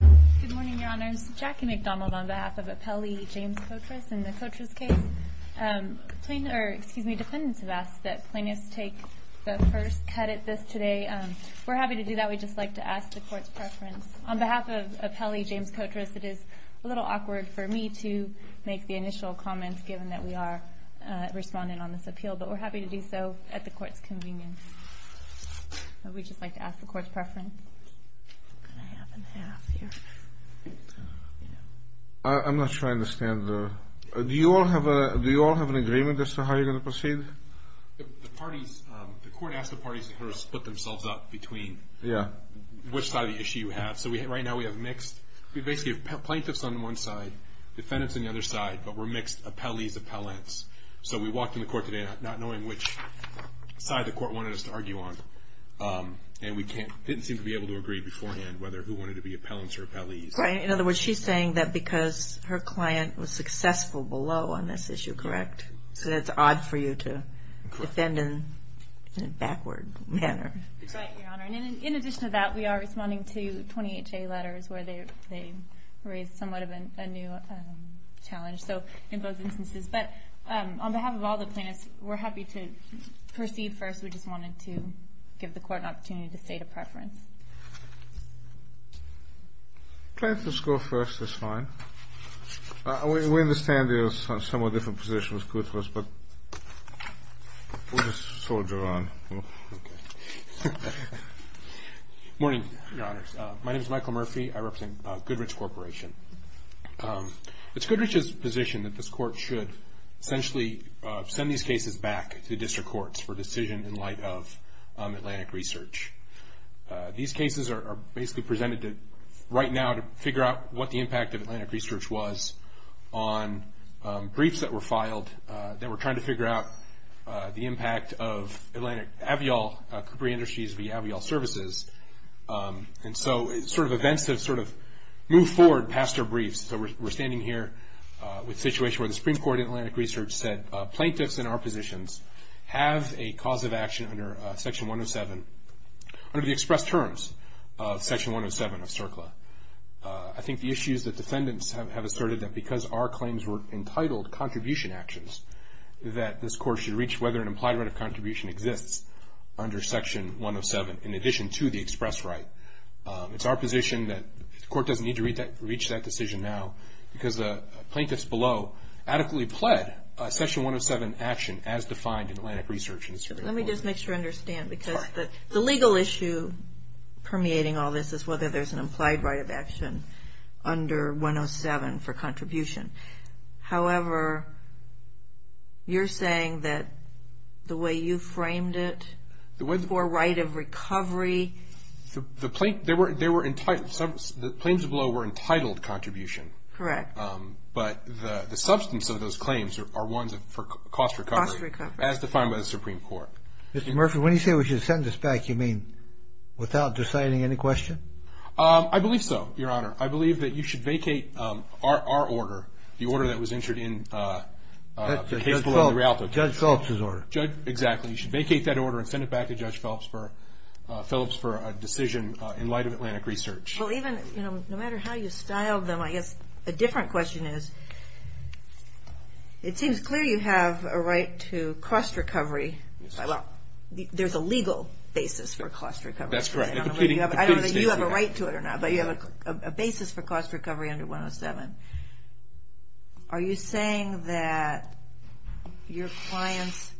Good morning, Your Honors. Jackie McDonald on behalf of Appellee James Kotras in the Kotras case. Plaintiffs, or excuse me, defendants have asked that plaintiffs take the first cut at this today. We're happy to do that. We'd just like to ask the Court's preference. On behalf of Appellee James Kotras, it is a little awkward for me to make the initial comments given that we are responding on this appeal, but we're happy to do so at the Court's convenience. We'd just like to ask the Court's preference. I'm not sure I understand. Do you all have an agreement as to how you're going to proceed? The Court asked the parties to split themselves up between which side of the issue you have. So right now we have plaintiffs on one side, defendants on the other side, but we're mixed appellees, appellants. So we walked in the Court today not knowing which side the Court wanted us to argue on, and we didn't seem to be able to agree beforehand whether who wanted to be appellants or appellees. In other words, she's saying that because her client was successful below on this issue, correct? So that's odd for you to defend in a backward manner. That's right, Your Honor. In addition to that, we are responding to 20 HA letters where they raised somewhat of a new challenge. So in both instances. But on behalf of all the plaintiffs, we're happy to proceed first. We just wanted to give the Court an opportunity to state a preference. Plaintiffs go first. That's fine. We understand there are somewhat different positions. But we'll just soldier on. Morning, Your Honors. My name is Michael Murphy. I represent Goodrich Corporation. It's Goodrich's position that this Court should essentially send these cases back to district courts for decision in light of Atlantic Research. These cases are basically presented right now to figure out what the impact of Atlantic Research was on briefs that were filed that were trying to figure out the impact of Atlantic AVIOL, Capri Industries v. AVIOL Services. And so sort of events have sort of moved forward past our briefs. So we're standing here with a situation where the Supreme Court in Atlantic Research said plaintiffs in our positions have a cause of action under Section 107, under the expressed terms of Section 107 of CERCLA. I think the issue is that defendants have asserted that because our claims were entitled contribution actions, that this Court should reach whether an implied right of contribution exists under Section 107 in addition to the expressed right. It's our position that the Court doesn't need to reach that decision now because the plaintiffs below adequately pled Section 107 action as defined in Atlantic Research. Let me just make sure I understand because the legal issue permeating all this is whether there's an implied right of action under 107 for contribution. However, you're saying that the way you framed it for right of recovery. The plaintiffs below were entitled contribution. Correct. But the substance of those claims are ones for cost recovery. Cost recovery. As defined by the Supreme Court. Mr. Murphy, when you say we should send this back, you mean without deciding any question? I believe so, Your Honor. I believe that you should vacate our order, the order that was entered in the case below the Rialto case. Judge Phillips's order. Exactly. You should vacate that order and send it back to Judge Phillips for a decision in light of Atlantic Research. No matter how you style them, I guess a different question is, it seems clear you have a right to cost recovery. There's a legal basis for cost recovery. That's correct. Are you saying that your clients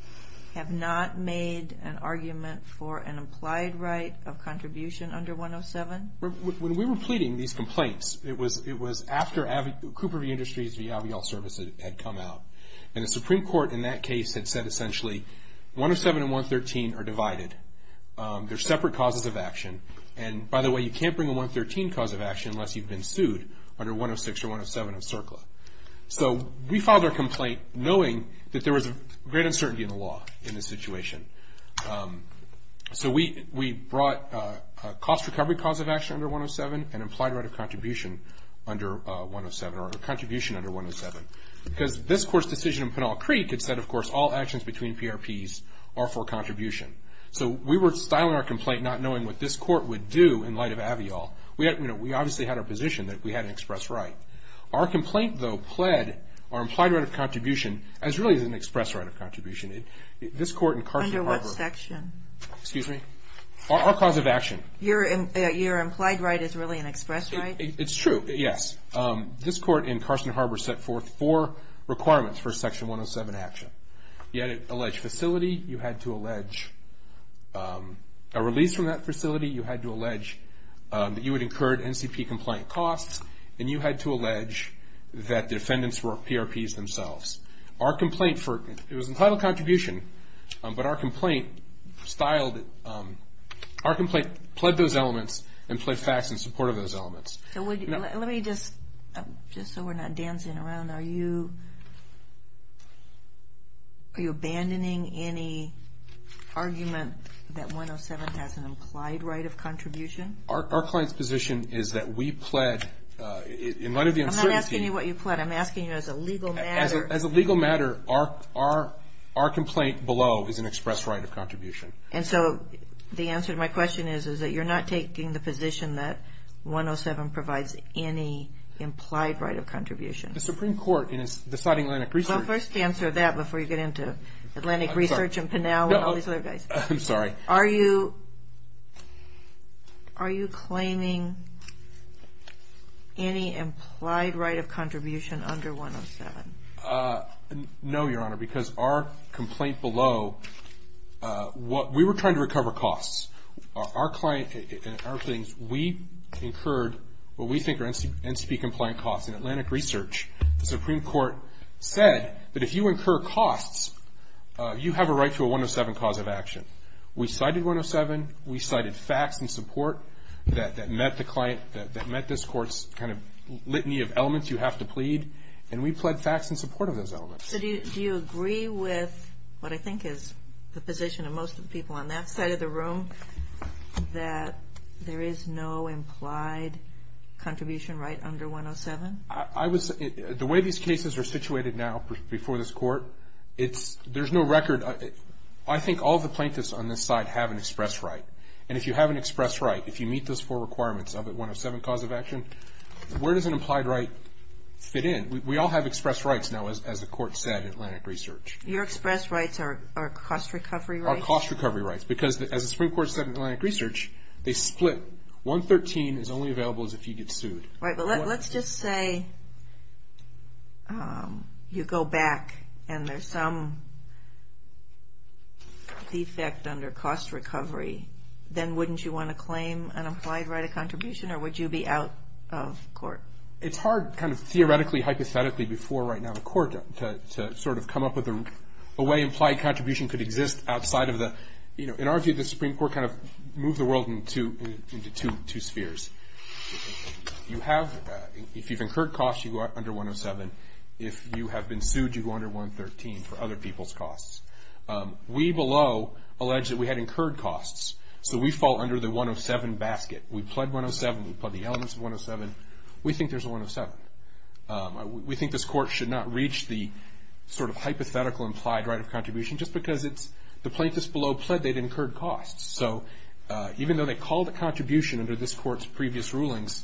have not made an argument for an implied right of contribution under 107? When we were pleading these complaints, it was after Cooper Industries v. Avial Service had come out. And the Supreme Court in that case had said essentially 107 and 113 are divided. They're separate causes of action. And by the way, you can't bring a 113 cause of action unless you've been sued under 106 or 107 of CERCLA. So we filed our complaint knowing that there was great uncertainty in the law in this situation. So we brought a cost recovery cause of action under 107 and implied right of contribution under 107 or a contribution under 107. Because this Court's decision in Pinal Creek had said, of course, all actions between PRPs are for contribution. So we were styling our complaint not knowing what this Court would do in light of Avial. We obviously had our position that we had an express right. Our complaint, though, pled our implied right of contribution as really an express right of contribution. Under what section? Our cause of action. Your implied right is really an express right? It's true, yes. This Court in Carson Harbor set forth four requirements for Section 107 action. You had an alleged facility. You had to allege a release from that facility. You had to allege that you would incur NCP complaint costs. And you had to allege that the defendants were PRPs themselves. It was an implied right of contribution, but our complaint styled it. Our complaint pled those elements and pled facts in support of those elements. Let me just, just so we're not dancing around, are you abandoning any argument that 107 has an implied right of contribution? Our client's position is that we pled in light of the uncertainty. I'm not asking you what you pled. I'm asking you as a legal matter. Our complaint below is an express right of contribution. And so the answer to my question is that you're not taking the position that 107 provides any implied right of contribution? The Supreme Court in deciding Atlantic Research. Well, first answer that before you get into Atlantic Research and Pinal and all these other guys. I'm sorry. Are you claiming any implied right of contribution under 107? No, Your Honor, because our complaint below, we were trying to recover costs. Our client and our claims, we incurred what we think are NCP compliant costs in Atlantic Research. The Supreme Court said that if you incur costs, you have a right to a 107 cause of action. We cited 107. We cited facts in support that met this Court's kind of litany of elements you have to plead. And we pled facts in support of those elements. So do you agree with what I think is the position of most of the people on that side of the room, that there is no implied contribution right under 107? The way these cases are situated now before this Court, there's no record. I think all the plaintiffs on this side have an express right. And if you have an express right, if you meet those four requirements of a 107 cause of action, where does an implied right fit in? We all have express rights now, as the Court said in Atlantic Research. Your express rights are cost recovery rights? Are cost recovery rights. Because as the Supreme Court said in Atlantic Research, they split. 113 is only available if you get sued. Right, but let's just say you go back and there's some defect under cost recovery. Then wouldn't you want to claim an implied right of contribution, or would you be out of court? It's hard kind of theoretically, hypothetically, before right now in court, to sort of come up with a way implied contribution could exist outside of the, you know, in our view the Supreme Court kind of moved the world into two spheres. You have, if you've incurred costs, you go under 107. If you have been sued, you go under 113 for other people's costs. We below allege that we had incurred costs, so we fall under the 107 basket. We pled 107. We pled the elements of 107. We think there's a 107. We think this Court should not reach the sort of hypothetical implied right of contribution, just because it's the plaintiffs below pled they'd incurred costs. So even though they called a contribution under this Court's previous rulings,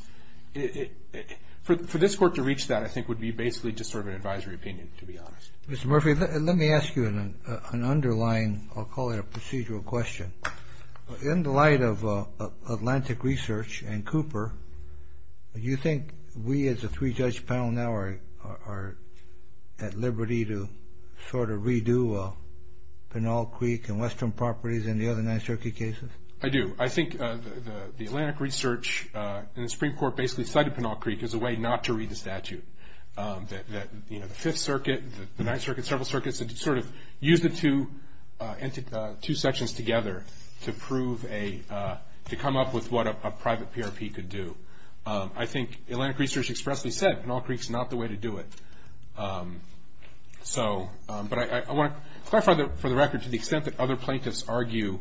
for this Court to reach that I think would be basically just sort of an advisory opinion, to be honest. Mr. Murphy, let me ask you an underlying, I'll call it a procedural question. In the light of Atlantic Research and Cooper, do you think we as a three-judge panel now are at liberty to sort of redo Pinal Creek and Western Properties and the other Ninth Circuit cases? I do. I think the Atlantic Research and the Supreme Court basically cited Pinal Creek as a way not to read the statute, that, you know, the Fifth Circuit, the Ninth Circuit, several circuits, sort of used the two sections together to prove a, to come up with what a private PRP could do. I think Atlantic Research expressly said Pinal Creek's not the way to do it. So, but I want to clarify for the record to the extent that other plaintiffs argue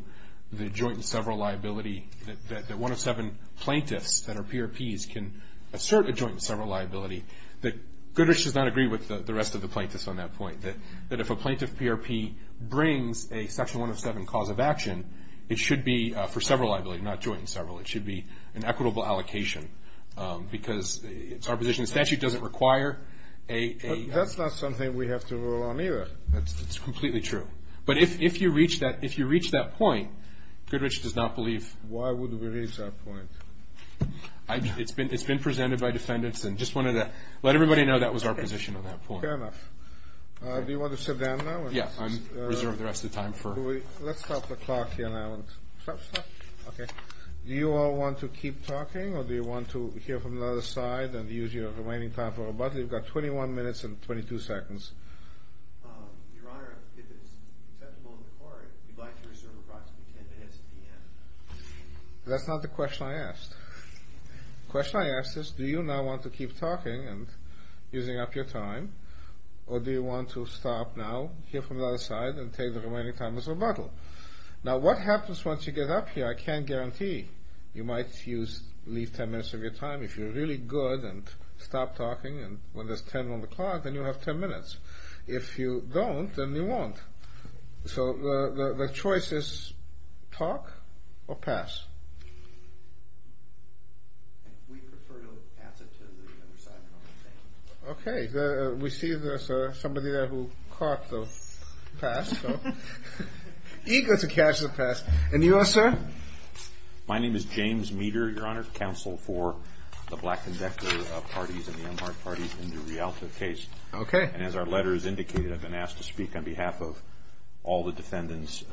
the joint and several liability, that one of seven plaintiffs that are PRPs can assert a joint and several liability, that Goodrich does not agree with the rest of the plaintiffs on that point, that if a plaintiff PRP brings a section 107 cause of action, it should be for several liability, not joint and several. It should be an equitable allocation because it's our position. The statute doesn't require a- But that's not something we have to rule on either. That's completely true. But if you reach that point, Goodrich does not believe- Why would we reach that point? It's been presented by defendants and just wanted to let everybody know that was our position on that point. Fair enough. Do you want to sit down now? Yeah, I reserve the rest of the time for- Let's stop the clock here now. Stop, stop. Okay. Do you all want to keep talking or do you want to hear from the other side and use your remaining time for rebuttal? You've got 21 minutes and 22 seconds. Your Honor, if it's acceptable in the court, we'd like to reserve approximately 10 minutes at the end. That's not the question I asked. The question I asked is do you now want to keep talking and using up your time or do you want to stop now, hear from the other side, and take the remaining time as rebuttal? Now, what happens once you get up here, I can't guarantee. You might leave 10 minutes of your time. If you're really good and stop talking when there's 10 on the clock, then you'll have 10 minutes. If you don't, then you won't. So the choice is talk or pass. We prefer to pass it to the other side. Okay. We see there's somebody there who caught the pass. Eager to catch the pass. And you are, sir? My name is James Meeder, Your Honor, counsel for the Black Convector Parties and the Amharic Parties in the Rialto case. Okay. And as our letter has indicated, I've been asked to speak on behalf of all the defendants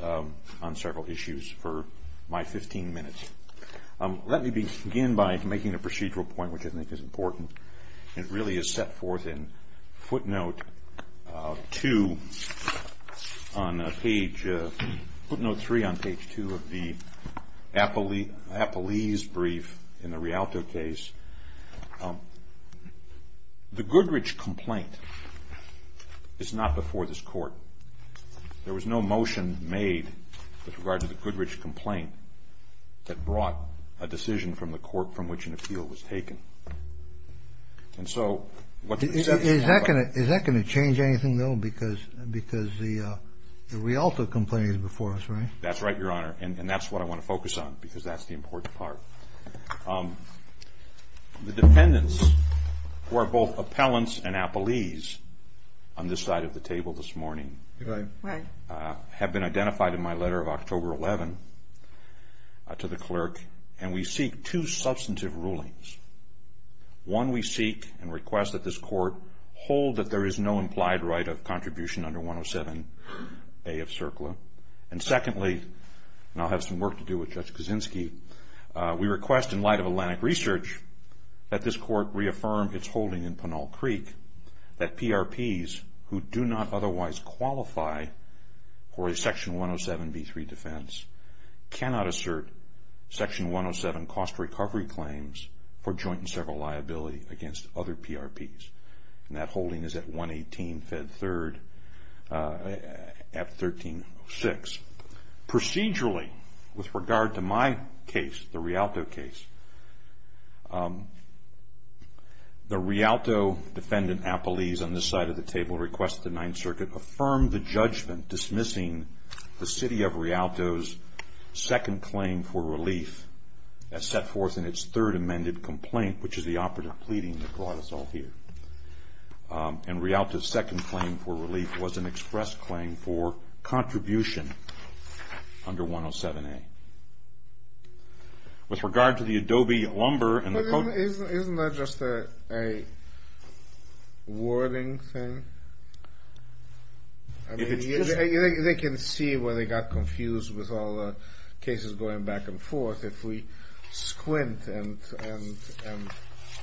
on several issues for my 15 minutes. Let me begin by making a procedural point, which I think is important. It really is set forth in footnote 2 on page – footnote 3 on page 2 of the Apollese brief in the Rialto case. The Goodrich complaint is not before this court. There was no motion made with regard to the Goodrich complaint that brought a decision from the court from which an appeal was taken. And so what the – Is that going to change anything, though, because the Rialto complaint is before us, right? That's right, Your Honor. And that's what I want to focus on because that's the important part. The defendants who are both appellants and Apollese on this side of the table this morning – Right. Right. Have been identified in my letter of October 11 to the clerk, and we seek two substantive rulings. One, we seek and request that this court hold that there is no implied right of contribution under 107A of CERCLA. And secondly, and I'll have some work to do with Judge Kaczynski, we request in light of Atlantic Research that this court reaffirm its holding in Pinal Creek that PRPs who do not otherwise qualify for a Section 107b3 defense cannot assert Section 107 cost recovery claims for joint and several liability against other PRPs. And that holding is at 118 Fed 3rd at 1306. Procedurally, with regard to my case, the Rialto case, the Rialto defendant, Apollese, on this side of the table requests that the Ninth Circuit affirm the judgment dismissing the City of Rialto's second claim for relief as set forth in its third amended complaint, which is the operative pleading that brought us all here. And Rialto's second claim for relief was an express claim for contribution under 107A. With regard to the Adobe lumber and the – Isn't that just a wording thing? I mean, they can see where they got confused with all the cases going back and forth. If we squint and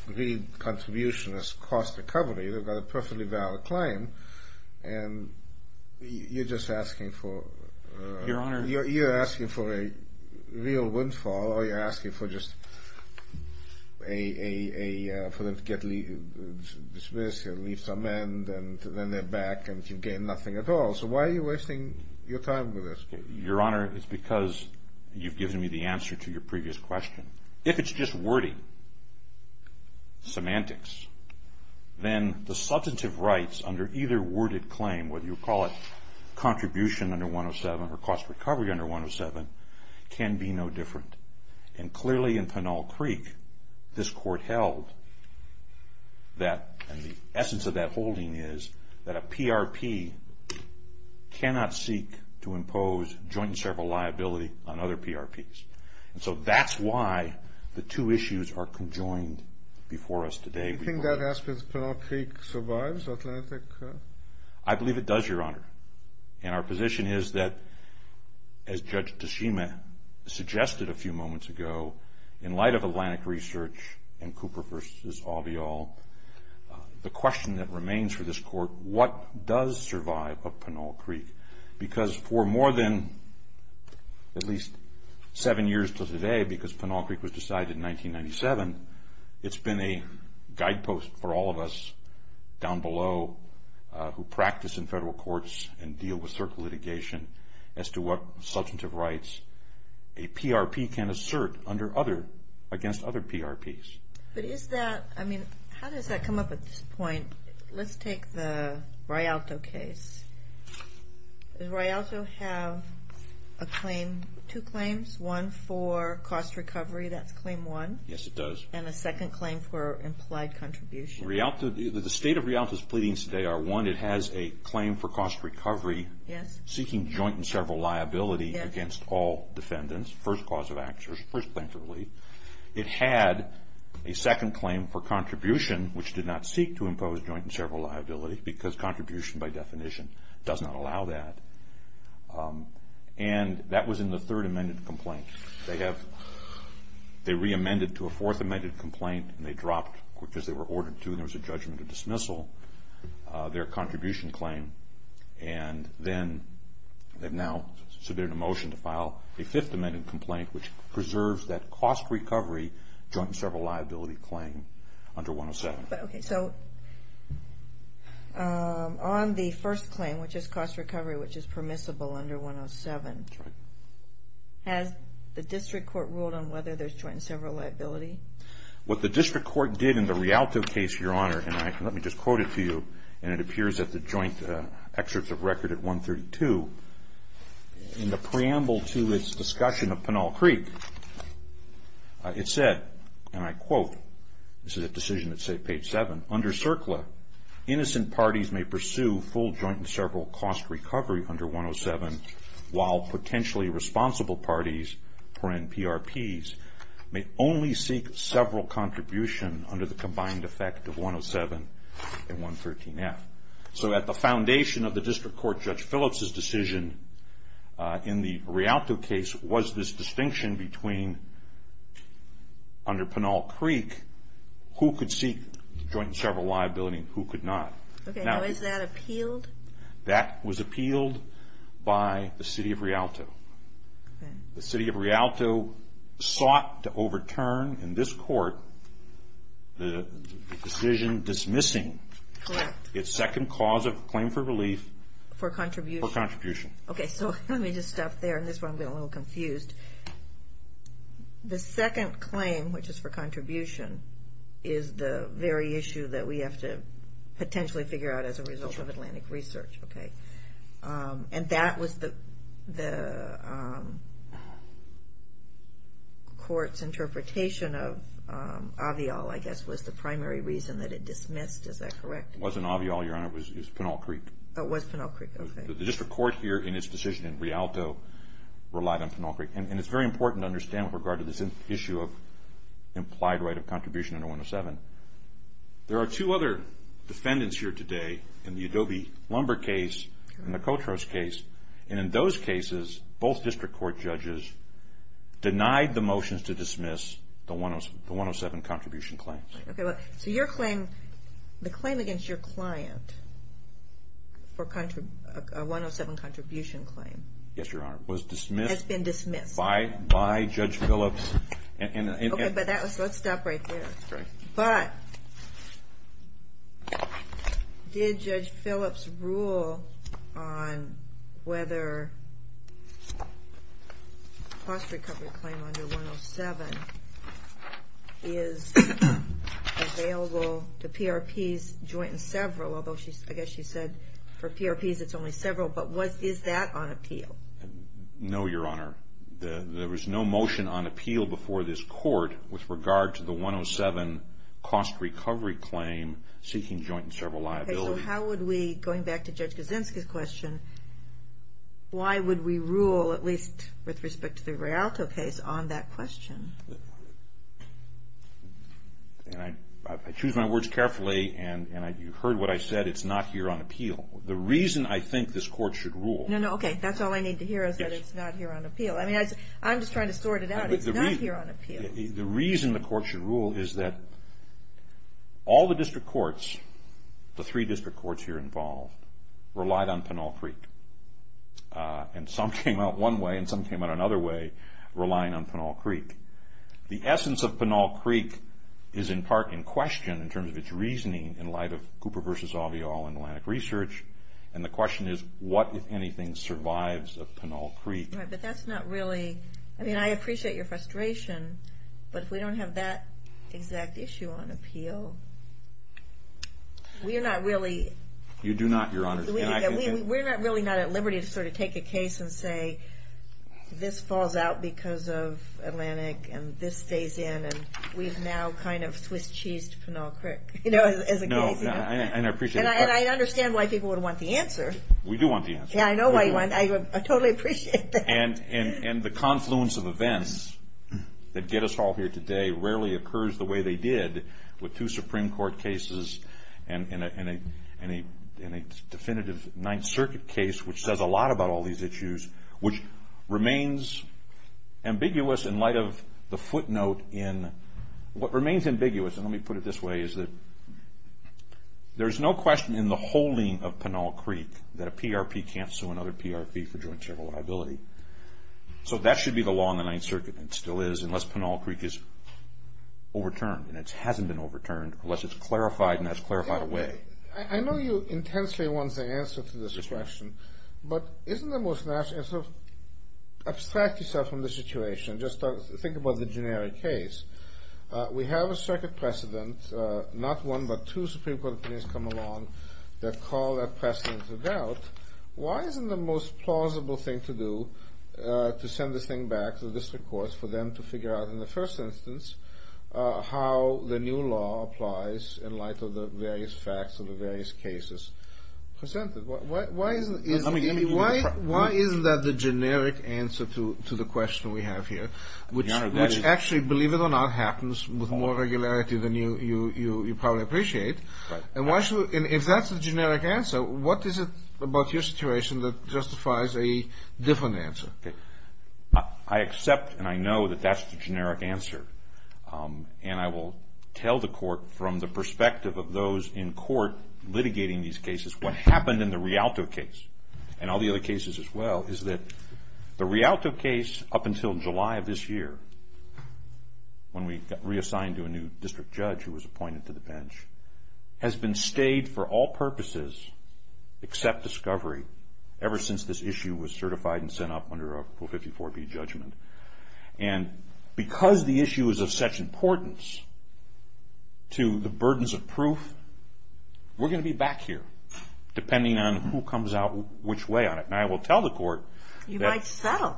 read contribution as cost recovery, they've got a perfectly valid claim, and you're just asking for – Your Honor – You're asking for a real windfall or you're asking for just a – dismiss, leave some end, and then they're back and you gain nothing at all. So why are you wasting your time with this case? Your Honor, it's because you've given me the answer to your previous question. If it's just wording, semantics, then the substantive rights under either worded claim, whether you call it contribution under 107 or cost recovery under 107, can be no different. And clearly in Pinal Creek, this court held that – and the essence of that holding is that a PRP cannot seek to impose joint and several liability on other PRPs. And so that's why the two issues are conjoined before us today. Do you think that aspect of Pinal Creek survives, Atlantic? I believe it does, Your Honor. And our position is that, as Judge Toshima suggested a few moments ago, in light of Atlantic research and Cooper v. Avial, the question that remains for this court, what does survive of Pinal Creek? Because for more than at least seven years to today, because Pinal Creek was decided in 1997, it's been a guidepost for all of us down below who practice in federal courts and deal with certain litigation as to what substantive rights a PRP can assert against other PRPs. But is that – I mean, how does that come up at this point? Let's take the Rialto case. Does Rialto have two claims, one for cost recovery? That's claim one. Yes, it does. And a second claim for implied contribution. The state of Rialto's pleadings today are, one, it has a claim for cost recovery, seeking joint and several liability against all defendants, first cause of actions, first claim for relief. It had a second claim for contribution, which did not seek to impose joint and several liability because contribution, by definition, does not allow that. And that was in the third amended complaint. They have – they re-amended to a fourth amended complaint and they dropped, because they were ordered to and there was a judgment of dismissal, their contribution claim. And then they've now submitted a motion to file a fifth amended complaint, which preserves that cost recovery joint and several liability claim under 107. Okay, so on the first claim, which is cost recovery, which is permissible under 107, has the district court ruled on whether there's joint and several liability? What the district court did in the Rialto case, Your Honor, and let me just quote it to you, and it appears at the joint excerpts of record at 132. In the preamble to its discussion of Pinal Creek, it said, and I quote, this is a decision that's, say, page 7, under CERCLA, innocent parties may pursue full joint and several cost recovery under 107, while potentially responsible parties, PRPs, may only seek several contribution under the combined effect of 107 and 113F. So at the foundation of the district court, Judge Phillips' decision in the Rialto case was this distinction between, under Pinal Creek, who could seek joint and several liability and who could not. Okay, now is that appealed? That was appealed by the city of Rialto. The city of Rialto sought to overturn in this court the decision dismissing its second cause of claim for relief for contribution. Okay, so let me just stop there, and this is where I'm getting a little confused. The second claim, which is for contribution, is the very issue that we have to potentially figure out as a result of Atlantic Research, okay? And that was the court's interpretation of Avial, I guess, was the primary reason that it dismissed, is that correct? It wasn't Avial, Your Honor, it was Pinal Creek. It was Pinal Creek, okay. The district court here in its decision in Rialto relied on Pinal Creek, and it's very important to understand with regard to this issue of implied right of contribution under 107. There are two other defendants here today in the Adobe Lumber case and the Coltrose case, and in those cases both district court judges denied the motions to dismiss the 107 contribution claims. Okay, so your claim, the claim against your client for a 107 contribution claim. Yes, Your Honor. Was dismissed. Has been dismissed. By Judge Phillips. Okay, but let's stop right there. But did Judge Phillips rule on whether a cost recovery claim under 107 is available to PRPs joint and several, although I guess she said for PRPs it's only several, but is that on appeal? No, Your Honor. There was no motion on appeal before this court with regard to the 107 cost recovery claim seeking joint and several liability. Okay, so how would we, going back to Judge Kaczynski's question, why would we rule, at least with respect to the Rialto case, on that question? I choose my words carefully, and you heard what I said. It's not here on appeal. The reason I think this court should rule. No, no, okay. That's all I need to hear is that it's not here on appeal. I mean, I'm just trying to sort it out. It's not here on appeal. The reason the court should rule is that all the district courts, the three district courts here involved, relied on Pinal Creek. And some came out one way and some came out another way relying on Pinal Creek. The essence of Pinal Creek is in part in question in terms of its reasoning in light of Cooper v. All in Atlantic Research, and the question is, what, if anything, survives of Pinal Creek? Right, but that's not really, I mean, I appreciate your frustration, but if we don't have that exact issue on appeal, we're not really. You do not, Your Honor. We're not really not at liberty to sort of take a case and say, this falls out because of Atlantic and this stays in, and we've now kind of Swiss-cheesed Pinal Creek, you know, as a case. And I appreciate it. And I understand why people would want the answer. We do want the answer. Yeah, I know why you want it. I totally appreciate that. And the confluence of events that get us all here today rarely occurs the way they did with two Supreme Court cases and a definitive Ninth Circuit case, which says a lot about all these issues, which remains ambiguous in light of the footnote in what remains ambiguous, and let me put it this way, is that there's no question in the holding of Pinal Creek that a PRP can't sue another PRP for joint charitable liability. So that should be the law in the Ninth Circuit, and it still is, unless Pinal Creek is overturned, and it hasn't been overturned, unless it's clarified, and that's clarified away. I know you intensely want the answer to this question, but isn't the most natural, sort of abstract yourself from the situation, just think about the generic case. We have a circuit precedent, not one but two Supreme Court opinions come along that call that precedent to doubt. Why isn't the most plausible thing to do to send this thing back to the district courts for them to figure out in the first instance how the new law applies in light of the various facts of the various cases presented? Why isn't that the generic answer to the question we have here, which actually, believe it or not, happens with more regularity than you probably appreciate? And if that's the generic answer, what is it about your situation that justifies a different answer? I accept and I know that that's the generic answer, and I will tell the court from the perspective of those in court litigating these cases what happened in the Rialto case, and all the other cases as well, is that the Rialto case up until July of this year, when we got reassigned to a new district judge who was appointed to the bench, has been stayed for all purposes except discovery ever since this issue was certified and sent up under a Rule 54b judgment. And because the issue is of such importance to the burdens of proof, we're going to be back here depending on who comes out which way on it. And I will tell the court that... You might settle.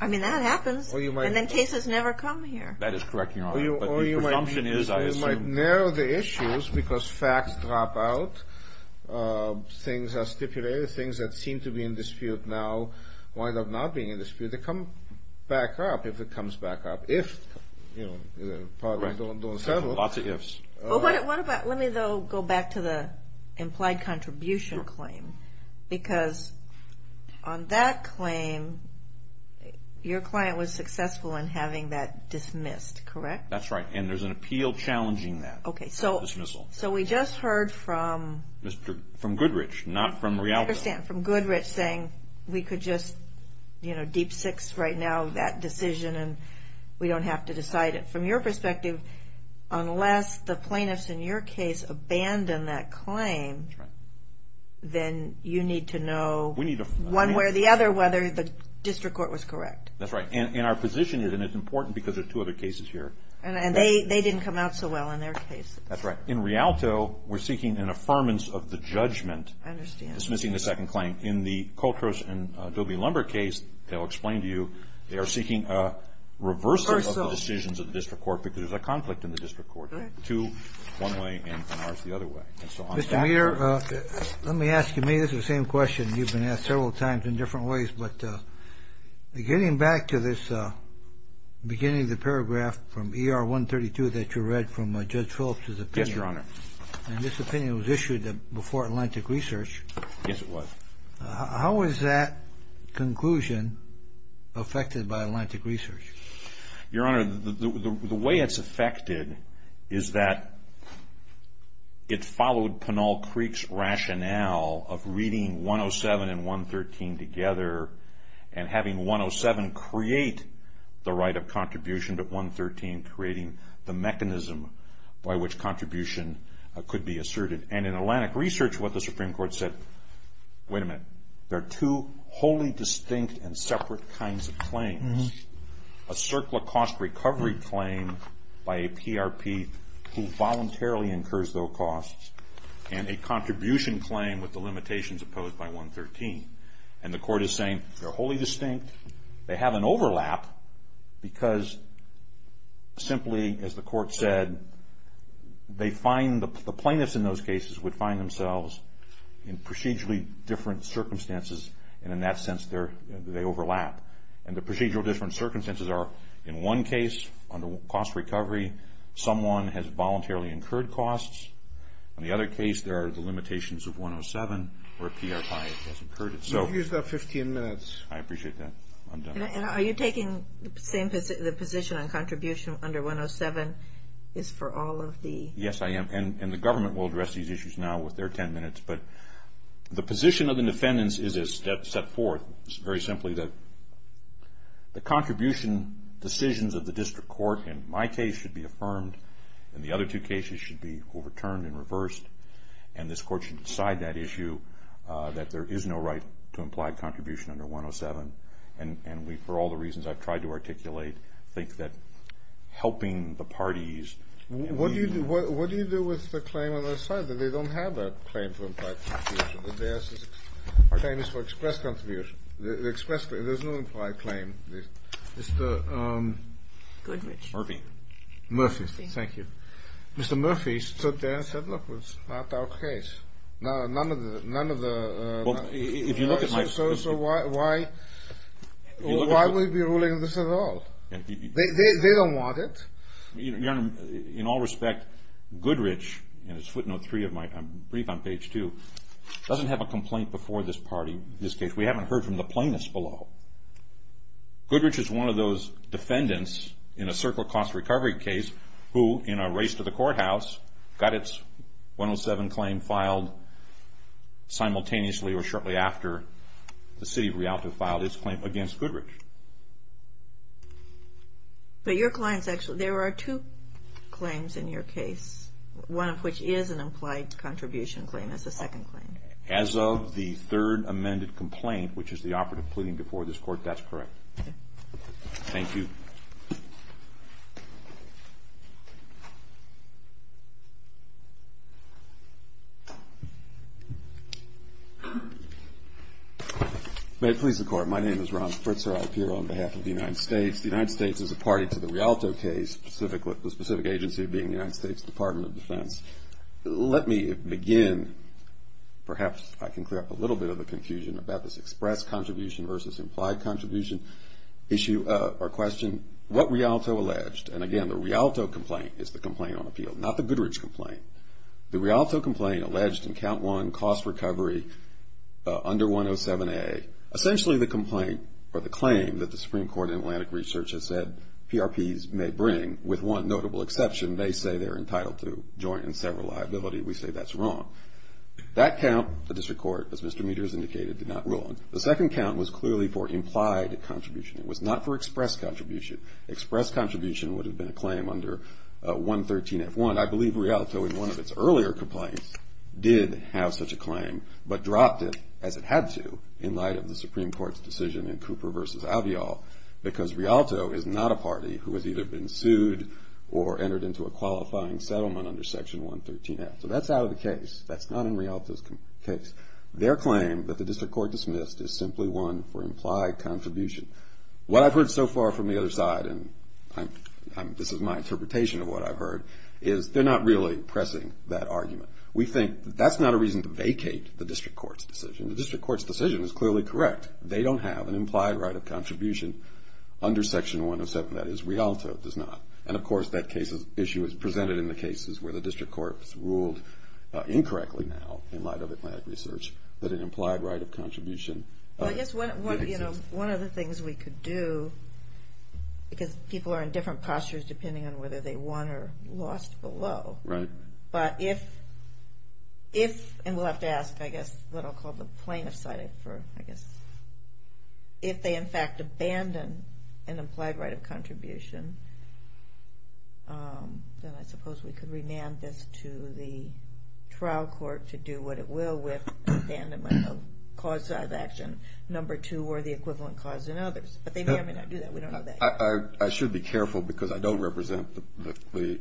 I mean, that happens. And then cases never come here. That is correct, Your Honor. But the presumption is, I assume... Or you might narrow the issues because facts drop out, things are stipulated, things that seem to be in dispute now wind up not being in dispute. They come back up if it comes back up. If, you know, probably don't settle. Lots of ifs. Let me, though, go back to the implied contribution claim. Because on that claim, your client was successful in having that dismissed, correct? That's right, and there's an appeal challenging that dismissal. So we just heard from... From Goodrich, not from Rialto. I understand, from Goodrich saying we could just, you know, deep six right now that decision and we don't have to decide it. But from your perspective, unless the plaintiffs in your case abandon that claim, then you need to know one way or the other whether the district court was correct. That's right, and our position is, and it's important because there are two other cases here. And they didn't come out so well in their cases. That's right. In Rialto, we're seeking an affirmance of the judgment dismissing the second claim. In the Coltrose and Dobie-Lumber case, they'll explain to you, they are seeking a reversal of the decisions of the district court because there's a conflict in the district court. Two one way and ours the other way. Mr. Meader, let me ask you, this is the same question you've been asked several times in different ways, but getting back to this beginning of the paragraph from ER 132 that you read from Judge Phillips' opinion. Yes, Your Honor. Yes, it was. How is that conclusion affected by Atlantic Research? Your Honor, the way it's affected is that it followed Pinal Creek's rationale of reading 107 and 113 together and having 107 create the right of contribution to 113, creating the mechanism by which contribution could be asserted. And in Atlantic Research, what the Supreme Court said, wait a minute, there are two wholly distinct and separate kinds of claims. A circular cost recovery claim by a PRP who voluntarily incurs those costs and a contribution claim with the limitations opposed by 113. And the court is saying they're wholly distinct. They have an overlap because simply as the court said, they find the plaintiffs in those cases would find themselves in procedurally different circumstances and in that sense they overlap. And the procedural different circumstances are in one case, under cost recovery, someone has voluntarily incurred costs. In the other case, there are the limitations of 107 or a PRP has incurred it. You've used up 15 minutes. I appreciate that. And are you taking the position on contribution under 107 is for all of the? Yes, I am. And the government will address these issues now with their 10 minutes. But the position of the defendants is as set forth, it's very simply that the contribution decisions of the district court in my case should be affirmed and the other two cases should be overturned and reversed. And this court should decide that issue that there is no right to implied contribution under 107. And we, for all the reasons I've tried to articulate, think that helping the parties. What do you do with the claim on the other side? They don't have a claim for implied contribution. Their claim is for express contribution. There's no implied claim. Mr. Murphy. Murphy. Thank you. Mr. Murphy stood there and said, look, it's not our case. None of the. So why would we be ruling this at all? They don't want it. In all respect, Goodrich, and it's footnote three of my brief on page two, doesn't have a complaint before this case. We haven't heard from the plaintiffs below. Goodrich is one of those defendants in a circle cost recovery case who, in a race to the courthouse, got its 107 claim filed simultaneously or shortly after the city of Rialto filed its claim against Goodrich. But your client's actually. There are two claims in your case, one of which is an implied contribution claim. It's a second claim. As of the third amended complaint, which is the operative pleading before this court, that's correct. Thank you. May it please the Court. My name is Ron Fritzer. I appear on behalf of the United States. The United States is a party to the Rialto case, the specific agency being the United States Department of Defense. Let me begin. Perhaps I can clear up a little bit of the confusion about this express contribution versus implied contribution issue or question. What Rialto alleged, and again, the Rialto complaint is the complaint on appeal, not the Goodrich complaint. The Rialto complaint alleged in count one cost recovery under 107A, essentially the complaint or the claim that the Supreme Court in Atlantic Research has said PRPs may bring, with one notable exception, may say they're entitled to joint and several liability. We say that's wrong. That count, the district court, as Mr. Meaders indicated, did not rule on. The second count was clearly for implied contribution. It was not for express contribution. Express contribution would have been a claim under 113F1. I believe Rialto in one of its earlier complaints did have such a claim, but dropped it as it had to in light of the Supreme Court's decision in Cooper versus Avial, because Rialto is not a party who has either been sued or entered into a qualifying settlement under section 113F. So that's out of the case. That's not in Rialto's case. Their claim that the district court dismissed is simply one for implied contribution. What I've heard so far from the other side, and this is my interpretation of what I've heard, is they're not really pressing that argument. We think that that's not a reason to vacate the district court's decision. The district court's decision is clearly correct. They don't have an implied right of contribution under section 107. That is, Rialto does not. And, of course, that issue is presented in the cases where the district court has ruled incorrectly now, in light of Atlantic Research, that an implied right of contribution did exist. Well, I guess one of the things we could do, because people are in different postures, depending on whether they won or lost below. Right. But if, and we'll have to ask, I guess, what I'll call the plaintiff side for, I guess. If they, in fact, abandon an implied right of contribution, then I suppose we could remand this to the trial court to do what it will with abandonment of cause of action number two or the equivalent cause in others. But they may or may not do that. We don't know that yet. I should be careful, because I don't represent the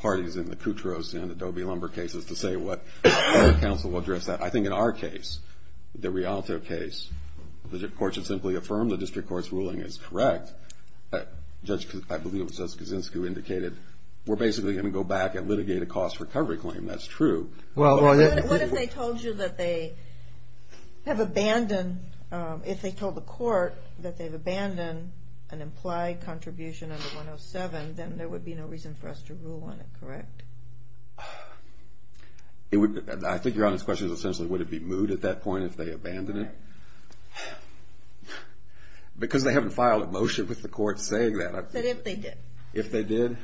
parties in the Cutros and Adobe Lumber cases to say what counsel will address that. I think in our case, the Rialto case, the court should simply affirm the district court's ruling is correct. Judge, I believe it was Judge Kuczynski who indicated, we're basically going to go back and litigate a cost recovery claim. That's true. What if they told you that they have abandoned, if they told the court that they've abandoned an implied contribution under 107, then there would be no reason for us to rule on it, correct? I think your honest question is essentially would it be moot at that point if they abandoned it? Right. Because they haven't filed a motion with the court saying that. But if they did? If they did,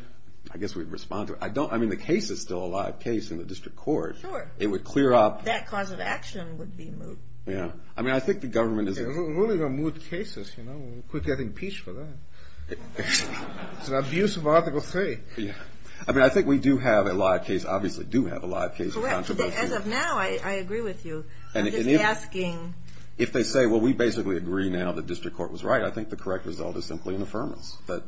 I guess we'd respond to it. I mean, the case is still a live case in the district court. Sure. It would clear up. That cause of action would be moot. Yeah. I mean, I think the government is Ruling on moot cases, you know, quit getting impeached for that. It's an abuse of Article 3. Yeah. I mean, I think we do have a live case, obviously do have a live case. Correct. As of now, I agree with you. I'm just asking. If they say, well, we basically agree now the district court was right, I think the correct result is simply an affirmance that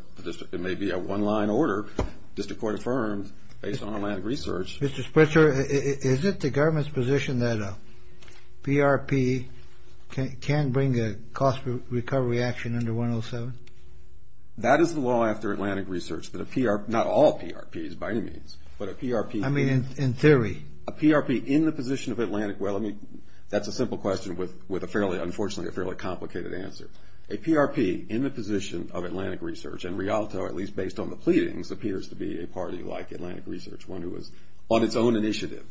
it may be a one-line order, district court affirmed based on Atlantic Research. Mr. Spritzer, is it the government's position that a PRP can bring a cost recovery action under 107? That is the law after Atlantic Research, that a PRP, not all PRPs by any means, but a PRP. I mean, in theory. A PRP in the position of Atlantic, well, I mean, that's a simple question with a fairly, unfortunately, a fairly complicated answer. A PRP in the position of Atlantic Research, and Rialto, at least based on the pleadings, appears to be a party like Atlantic Research, one who was on its own initiative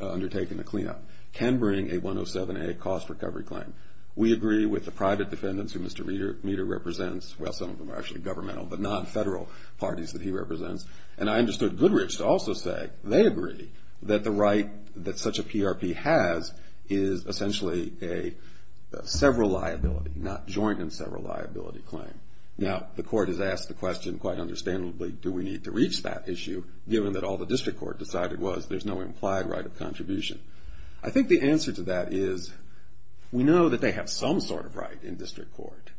undertaking the cleanup, can bring a 107A cost recovery claim. We agree with the private defendants who Mr. Meader represents. Well, some of them are actually governmental, but not federal parties that he represents. And I understood Goodrich to also say they agree that the right that such a PRP has is essentially a several liability, not joint and several liability claim. Now, the court has asked the question, quite understandably, do we need to reach that issue, given that all the district court decided was there's no implied right of contribution. I think the answer to that is we know that they have some sort of right in district court.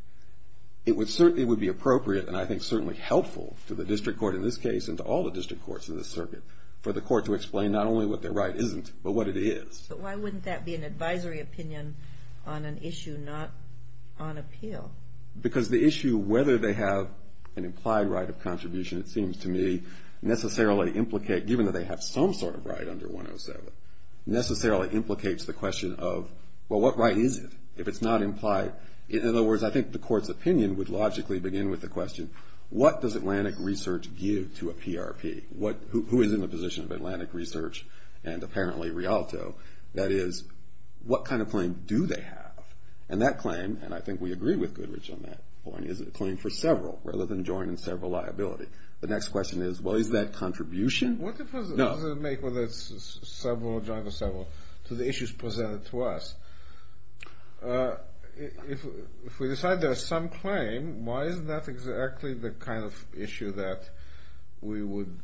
It would be appropriate and I think certainly helpful to the district court in this case and to all the district courts in this circuit for the court to explain not only what their right isn't, but what it is. But why wouldn't that be an advisory opinion on an issue not on appeal? Because the issue whether they have an implied right of contribution, it seems to me, necessarily implicate, given that they have some sort of right under 107, necessarily implicates the question of, well, what right is it if it's not implied? In other words, I think the court's opinion would logically begin with the question, what does Atlantic Research give to a PRP? Who is in the position of Atlantic Research and apparently Rialto? That is, what kind of claim do they have? And that claim, and I think we agree with Goodrich on that point, is a claim for several rather than joining several liability. The next question is, well, is that contribution? What does it make whether it's several or joining several to the issues presented to us? If we decide there's some claim, why is that exactly the kind of issue that we would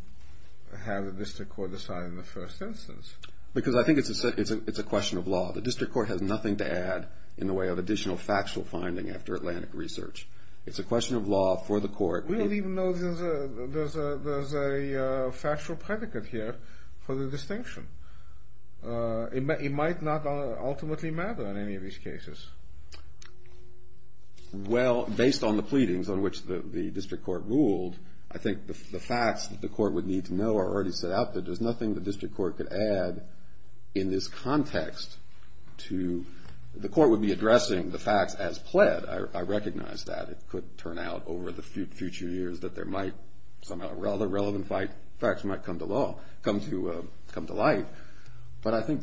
have a district court decide in the first instance? Because I think it's a question of law. The district court has nothing to add in the way of additional factual finding after Atlantic Research. It's a question of law for the court. We don't even know there's a factual predicate here for the distinction. It might not ultimately matter in any of these cases. Well, based on the pleadings on which the district court ruled, I think the facts that the court would need to know are already set out. There's nothing the district court could add in this context to the court would be addressing the facts as pled. I recognize that. It could turn out over the future years that there might somehow rather relevant facts might come to law, come to life, but I think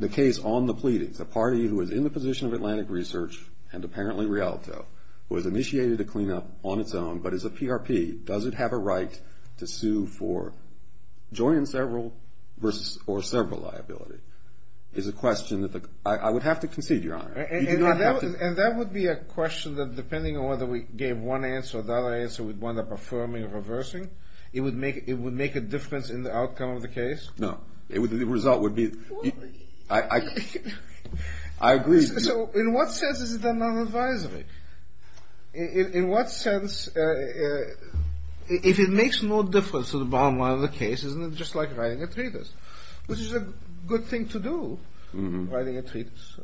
the case on the pleadings, the party who is in the position of Atlantic Research and apparently Rialto, who has initiated a cleanup on its own but is a PRP, does it have a right to sue for joining several versus or several liability is a question that I would have to concede, Your Honor. And that would be a question that depending on whether we gave one answer or the other answer, we'd wind up affirming or reversing. It would make a difference in the outcome of the case? No. The result would be. I agree. So in what sense is it a non-advisory? In what sense, if it makes no difference to the bottom line of the case, isn't it just like writing a treatise, which is a good thing to do, writing a treatise.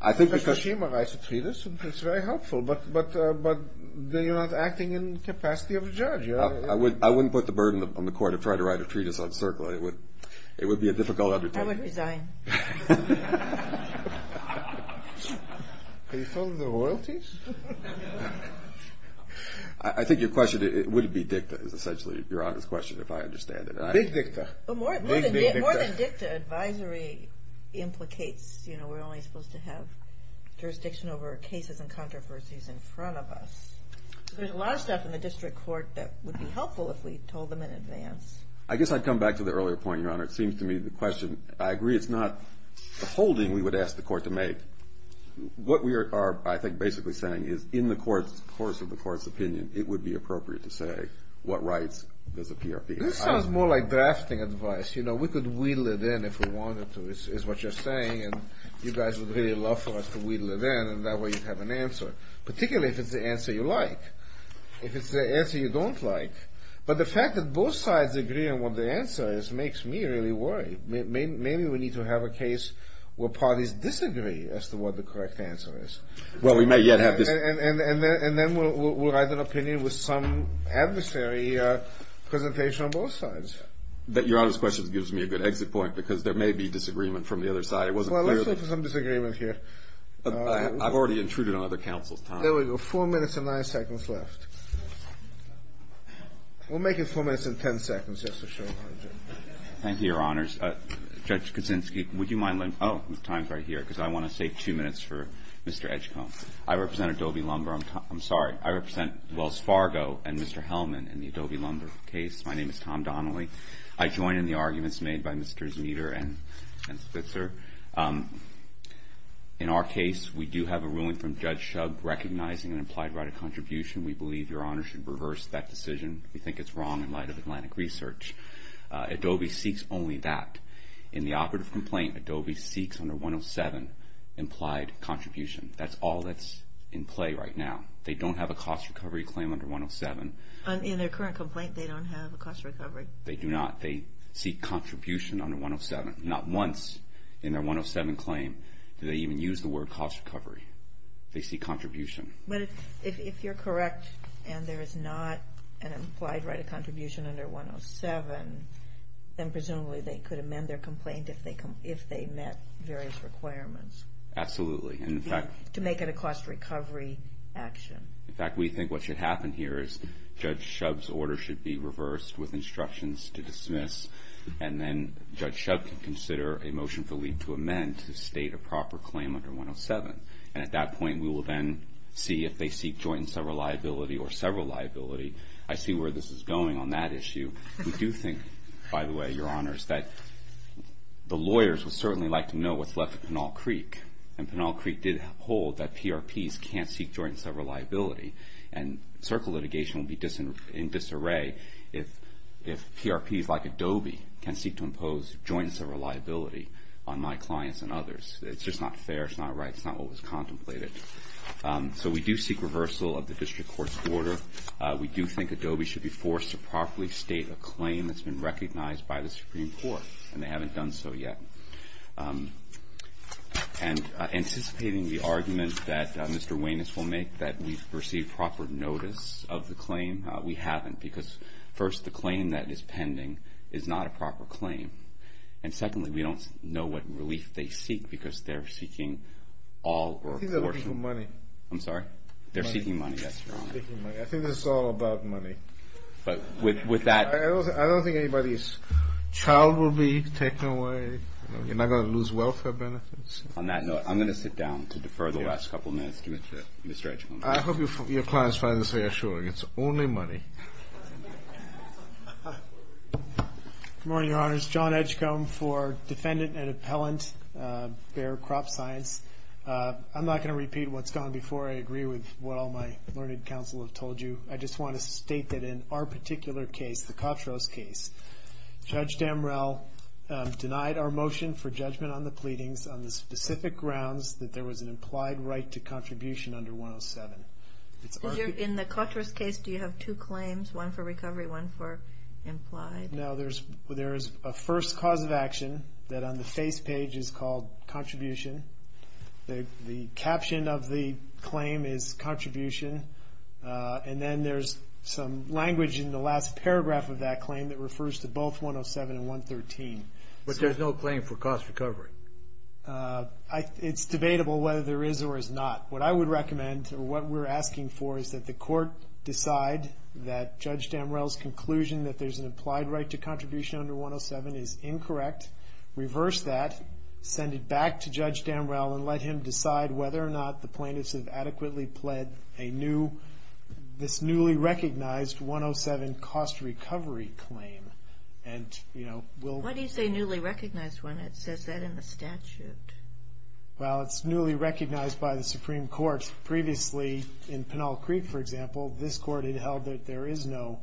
I think because. Mr. Shema writes a treatise and it's very helpful, but you're not acting in capacity of a judge. I wouldn't put the burden on the court to try to write a treatise on CERCLA. It would be a difficult undertaking. I would resign. Are you talking about royalties? I think your question, would it be dicta is essentially Your Honor's question if I understand it. Big dicta. Big, big dicta. More than dicta, advisory implicates, you know, we're only supposed to have jurisdiction over cases and controversies in front of us. There's a lot of stuff in the district court that would be helpful if we told them in advance. I guess I'd come back to the earlier point, Your Honor. It seems to me the question. I agree it's not a holding we would ask the court to make. What we are, I think, basically saying is in the course of the court's opinion, it would be appropriate to say what rights does the PRP. This sounds more like drafting advice. You know, we could wheedle it in if we wanted to, is what you're saying, and you guys would really love for us to wheedle it in, and that way you'd have an answer, particularly if it's the answer you like. If it's the answer you don't like. But the fact that both sides agree on what the answer is makes me really worried. Maybe we need to have a case where parties disagree as to what the correct answer is. Well, we may yet have this. And then we'll write an opinion with some adversary presentation on both sides. Your Honor's question gives me a good exit point because there may be disagreement from the other side. Well, let's look for some disagreement here. I've already intruded on other counsel's time. There we go. Four minutes and nine seconds left. We'll make it four minutes and ten seconds just to show. Thank you, Your Honors. Judge Kuczynski, would you mind letting me? Oh, the time's right here because I want to save two minutes for Mr. Edgecomb. I represent Adobe Lumber. I'm sorry. I represent Wells Fargo and Mr. Hellman in the Adobe Lumber case. My name is Tom Donnelly. I join in the arguments made by Mr. Zmider and Spitzer. In our case, we do have a ruling from Judge Shug recognizing an implied right of contribution. We believe Your Honor should reverse that decision. We think it's wrong in light of Atlantic Research. Adobe seeks only that. In the operative complaint, Adobe seeks under 107 implied contribution. That's all that's in play right now. They don't have a cost recovery claim under 107. In their current complaint, they don't have a cost recovery. They do not. They seek contribution under 107. Not once in their 107 claim do they even use the word cost recovery. They seek contribution. If you're correct and there is not an implied right of contribution under 107, then presumably they could amend their complaint if they met various requirements. Absolutely. To make it a cost recovery action. In fact, we think what should happen here is Judge Shug's order should be reversed with instructions to dismiss. And then Judge Shug can consider a motion for leave to amend to state a proper claim under 107. And at that point, we will then see if they seek joint and several liability or several liability. I see where this is going on that issue. We do think, by the way, Your Honors, that the lawyers would certainly like to know what's left of Pinal Creek. And Pinal Creek did hold that PRPs can't seek joint and several liability. And circle litigation would be in disarray if PRPs like Adobe can seek to impose joint and several liability on my clients and others. It's just not fair. It's not right. It's not what was contemplated. So we do seek reversal of the district court's order. We do think Adobe should be forced to properly state a claim that's been recognized by the Supreme Court. And they haven't done so yet. And anticipating the argument that Mr. Wayness will make that we've received proper notice of the claim, we haven't because, first, the claim that is pending is not a proper claim. And secondly, we don't know what relief they seek because they're seeking all or a portion. I think they're looking for money. I'm sorry? They're seeking money, yes, Your Honor. They're seeking money. I think this is all about money. But with that ---- I don't think anybody's child will be taken away. You're not going to lose welfare benefits. On that note, I'm going to sit down to defer the last couple of minutes to Mr. Edgecomb. I hope your clients find this reassuring. It's only money. Good morning, Your Honors. John Edgecomb for Defendant and Appellant, Bexar Crop Science. I'm not going to repeat what's gone before. I agree with what all my learned counsel have told you. I just want to state that in our particular case, the Kotros case, Judge Damrell denied our motion for judgment on the pleadings on the specific grounds that there was an implied right to contribution under 107. In the Kotros case, do you have two claims, one for recovery, one for implied? No. There is a first cause of action that on the face page is called contribution. The caption of the claim is contribution. And then there's some language in the last paragraph of that claim that refers to both 107 and 113. But there's no claim for cost recovery. It's debatable whether there is or is not. What I would recommend or what we're asking for is that the court decide that Judge Damrell's conclusion that there's an implied right to contribution under 107 is incorrect, reverse that, send it back to Judge Damrell, and let him decide whether or not the plaintiffs have adequately pled this newly recognized 107 cost recovery claim. Why do you say newly recognized when it says that in the statute? Well, it's newly recognized by the Supreme Court. Previously in Pinal Creek, for example, this court had held that there is no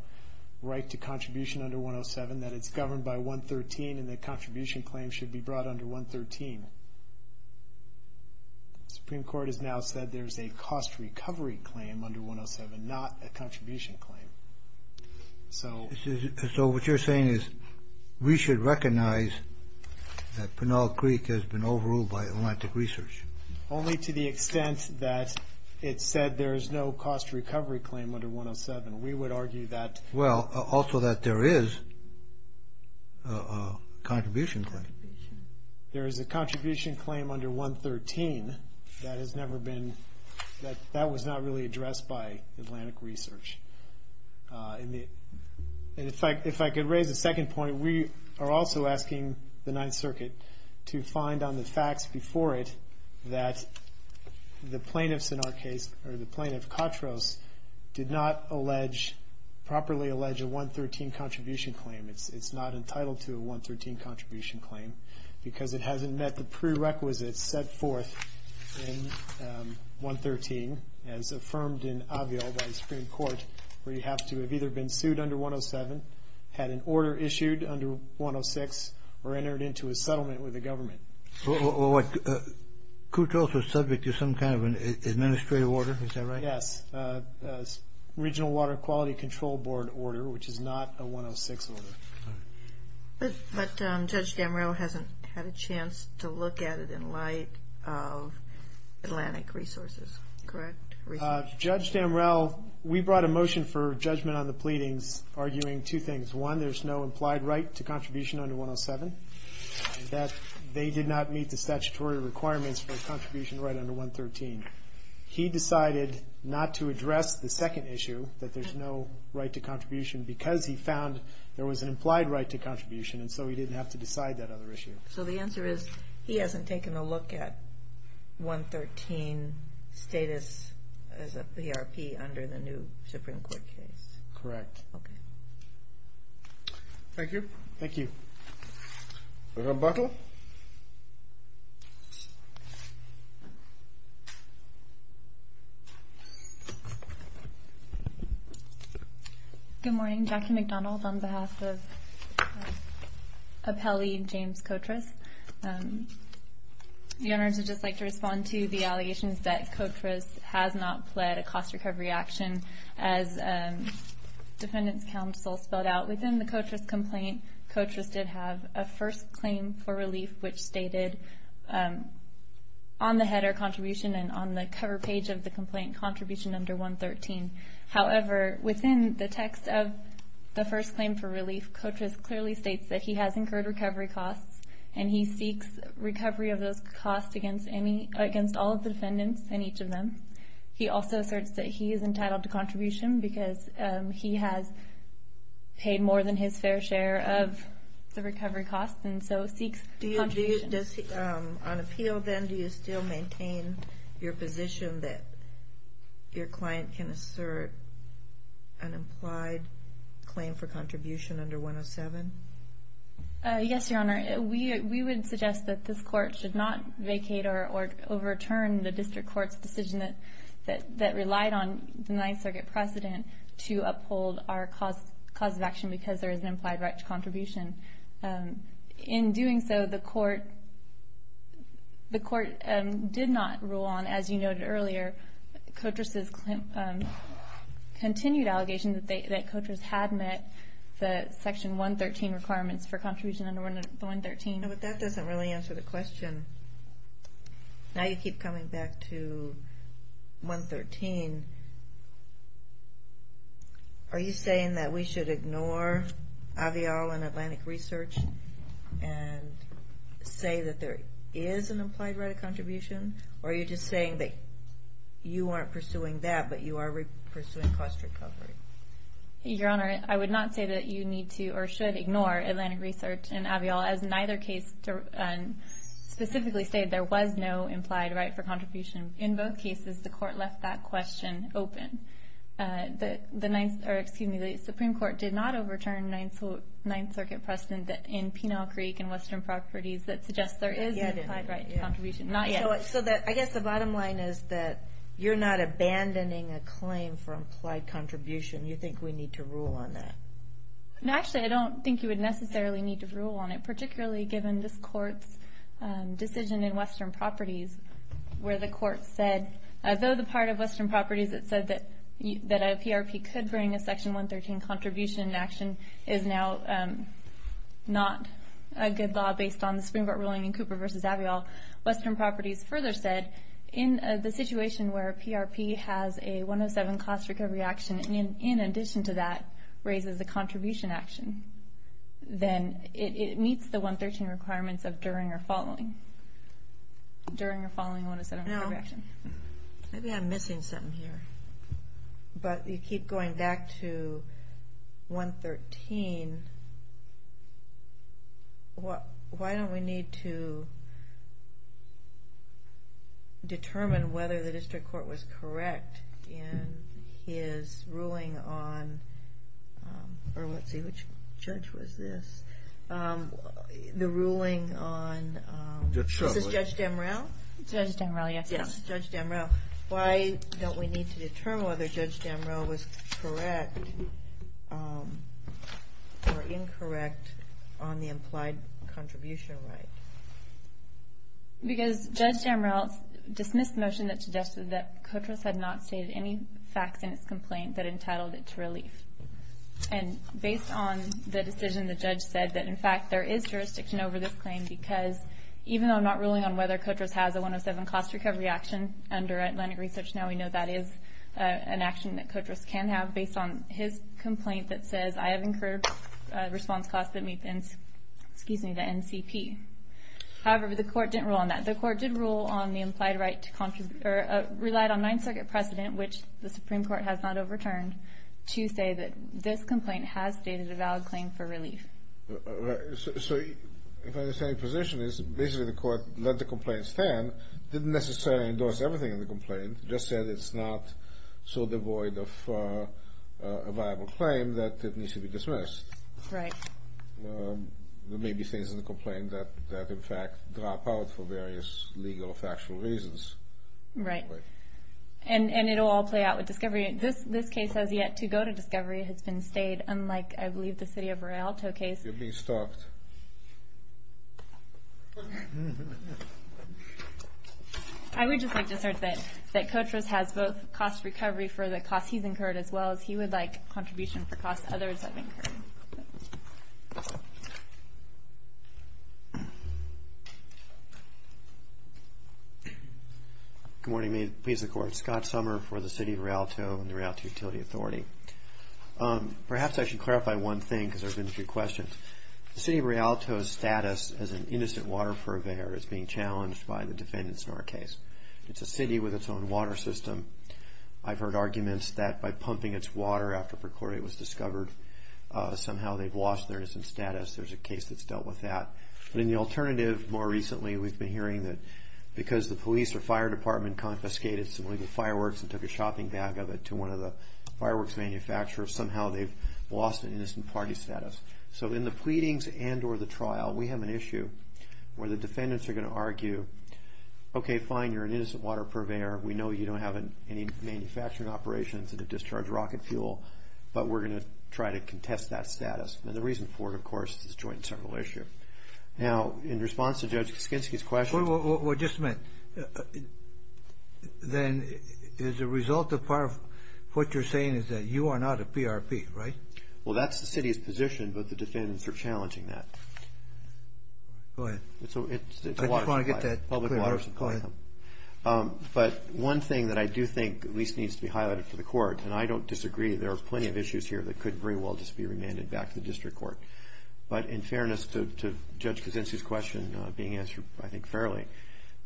right to contribution under 107, that it's governed by 113 and the contribution claim should be brought under 113. The Supreme Court has now said there's a cost recovery claim under 107, not a contribution claim. So what you're saying is we should recognize that Pinal Creek has been overruled by Atlantic Research? Only to the extent that it said there is no cost recovery claim under 107. We would argue that. Well, also that there is a contribution claim. There is a contribution claim under 113 that has never been, that was not really addressed by Atlantic Research. And if I could raise a second point, we are also asking the Ninth Circuit to find on the facts before it that the plaintiffs in our case, or the plaintiff, Katros, did not properly allege a 113 contribution claim. It's not entitled to a 113 contribution claim because it hasn't met the prerequisites set forth in 113, as affirmed in Avio by the Supreme Court, where you have to have either been sued under 107, had an order issued under 106, or entered into a settlement with the government. Well, what, Katros was subject to some kind of an administrative order, is that right? Yes, a Regional Water Quality Control Board order, which is not a 106 order. But Judge Damrell hasn't had a chance to look at it in light of Atlantic Resources, correct? Judge Damrell, we brought a motion for judgment on the pleadings, arguing two things. One, there's no implied right to contribution under 107, that they did not meet the statutory requirements for a contribution right under 113. He decided not to address the second issue, that there's no right to contribution, because he found there was an implied right to contribution, and so he didn't have to decide that other issue. So the answer is, he hasn't taken a look at 113 status as a PRP under the new Supreme Court case? Correct. Okay. Thank you. Thank you. Rebuttal. Good morning. Jackie McDonald on behalf of Appellee James Kotras. The owners would just like to respond to the allegations that Kotras has not pled a cost recovery action. As Defendant's Counsel spelled out, within the Kotras complaint, Kotras did have a first claim for relief, which stated on the header, contribution, and on the cover page of the complaint, contribution under 113. However, within the text of the first claim for relief, Kotras clearly states that he has incurred recovery costs, and he seeks recovery of those costs against all of the defendants and each of them. He also asserts that he is entitled to contribution, because he has paid more than his fair share of the recovery costs, and so seeks contribution. On appeal, then, do you still maintain your position that your client can assert an implied claim for contribution under 107? Yes, Your Honor. We would suggest that this Court should not vacate or overturn the District Court's decision that relied on the Ninth Circuit precedent to uphold our cause of action because there is an implied right to contribution. In doing so, the Court did not rule on, as you noted earlier, Kotras' continued allegation that Kotras had met the Section 113 requirements for contribution under 113. But that doesn't really answer the question. Now you keep coming back to 113. Are you saying that we should ignore Avial and Atlantic Research and say that there is an implied right of contribution, or are you just saying that you aren't pursuing that but you are pursuing cost recovery? Your Honor, I would not say that you need to or should ignore Atlantic Research and Avial. As neither case specifically stated, there was no implied right for contribution. In both cases, the Court left that question open. The Supreme Court did not overturn Ninth Circuit precedent in Pinal Creek and Western Properties that suggests there is an implied right to contribution. So I guess the bottom line is that you're not abandoning a claim for implied contribution. You think we need to rule on that? Actually, I don't think you would necessarily need to rule on it, particularly given this Court's decision in Western Properties where the Court said, though the part of Western Properties that said that a PRP could bring a Section 113 contribution in action is now not a good law based on the Supreme Court ruling in Cooper v. Avial, Western Properties further said in the situation where a PRP has a 107 cost recovery action and in addition to that raises a contribution action, then it meets the 113 requirements of during or following. During or following 107 recovery action. Maybe I'm missing something here. But you keep going back to 113. Why don't we need to determine whether the District Court was correct in his ruling on, or let's see, which judge was this? The ruling on, is this Judge Demrell? Judge Demrell, yes. Yes, Judge Demrell. Why don't we need to determine whether Judge Demrell was correct or incorrect on the implied contribution right? Because Judge Demrell dismissed the motion that suggested that Kotras had not stated any facts in its complaint that entitled it to relief. And based on the decision, the judge said that, in fact, there is jurisdiction over this claim because even though I'm not ruling on whether Kotras has a 107 cost recovery action under Atlantic Research, now we know that is an action that Kotras can have based on his complaint that says, I have incurred response costs that meet the NCP. However, the court didn't rule on that. The court did rule on the implied right to contribute, or relied on Ninth Circuit precedent, which the Supreme Court has not overturned, to say that this complaint has stated a valid claim for relief. So, if I understand your position, basically the court let the complaint stand, didn't necessarily endorse everything in the complaint, just said it's not so devoid of a viable claim that it needs to be dismissed. Right. There may be things in the complaint that, in fact, drop out for various legal or factual reasons. Right. And it will all play out with discovery. This case has yet to go to discovery. It has been stayed, unlike, I believe, the city of Rialto case. You're being stopped. I would just like to assert that Kotras has both cost recovery for the costs he's incurred, as well as he would like contribution for costs others have incurred. Good morning. May it please the court. Scott Sommer for the city of Rialto and the Rialto Utility Authority. Perhaps I should clarify one thing, because there have been a few questions. The city of Rialto's status as an innocent water purveyor is being challenged by the defendants in our case. It's a city with its own water system. I've heard arguments that by pumping its water after Percori was discovered, somehow they've lost their innocent status. There's a case that's dealt with that. But in the alternative, more recently we've been hearing that because the police or fire department confiscated some legal fireworks and took a shopping bag of it to one of the fireworks manufacturers, somehow they've lost an innocent party status. So in the pleadings and or the trial, we have an issue where the defendants are going to argue, okay, fine, you're an innocent water purveyor. We know you don't have any manufacturing operations that have discharged rocket fuel, but we're going to try to contest that status. And the reason for it, of course, is a joint and several issue. Now, in response to Judge Kaskinski's question. Well, just a minute. Then as a result of what you're saying is that you are not a PRP, right? Well, that's the city's position, but the defendants are challenging that. Go ahead. I just want to get that clear. But one thing that I do think at least needs to be highlighted for the court, and I don't disagree, there are plenty of issues here that could very well just be remanded back to the district court. But in fairness to Judge Kaskinski's question being answered, I think, fairly.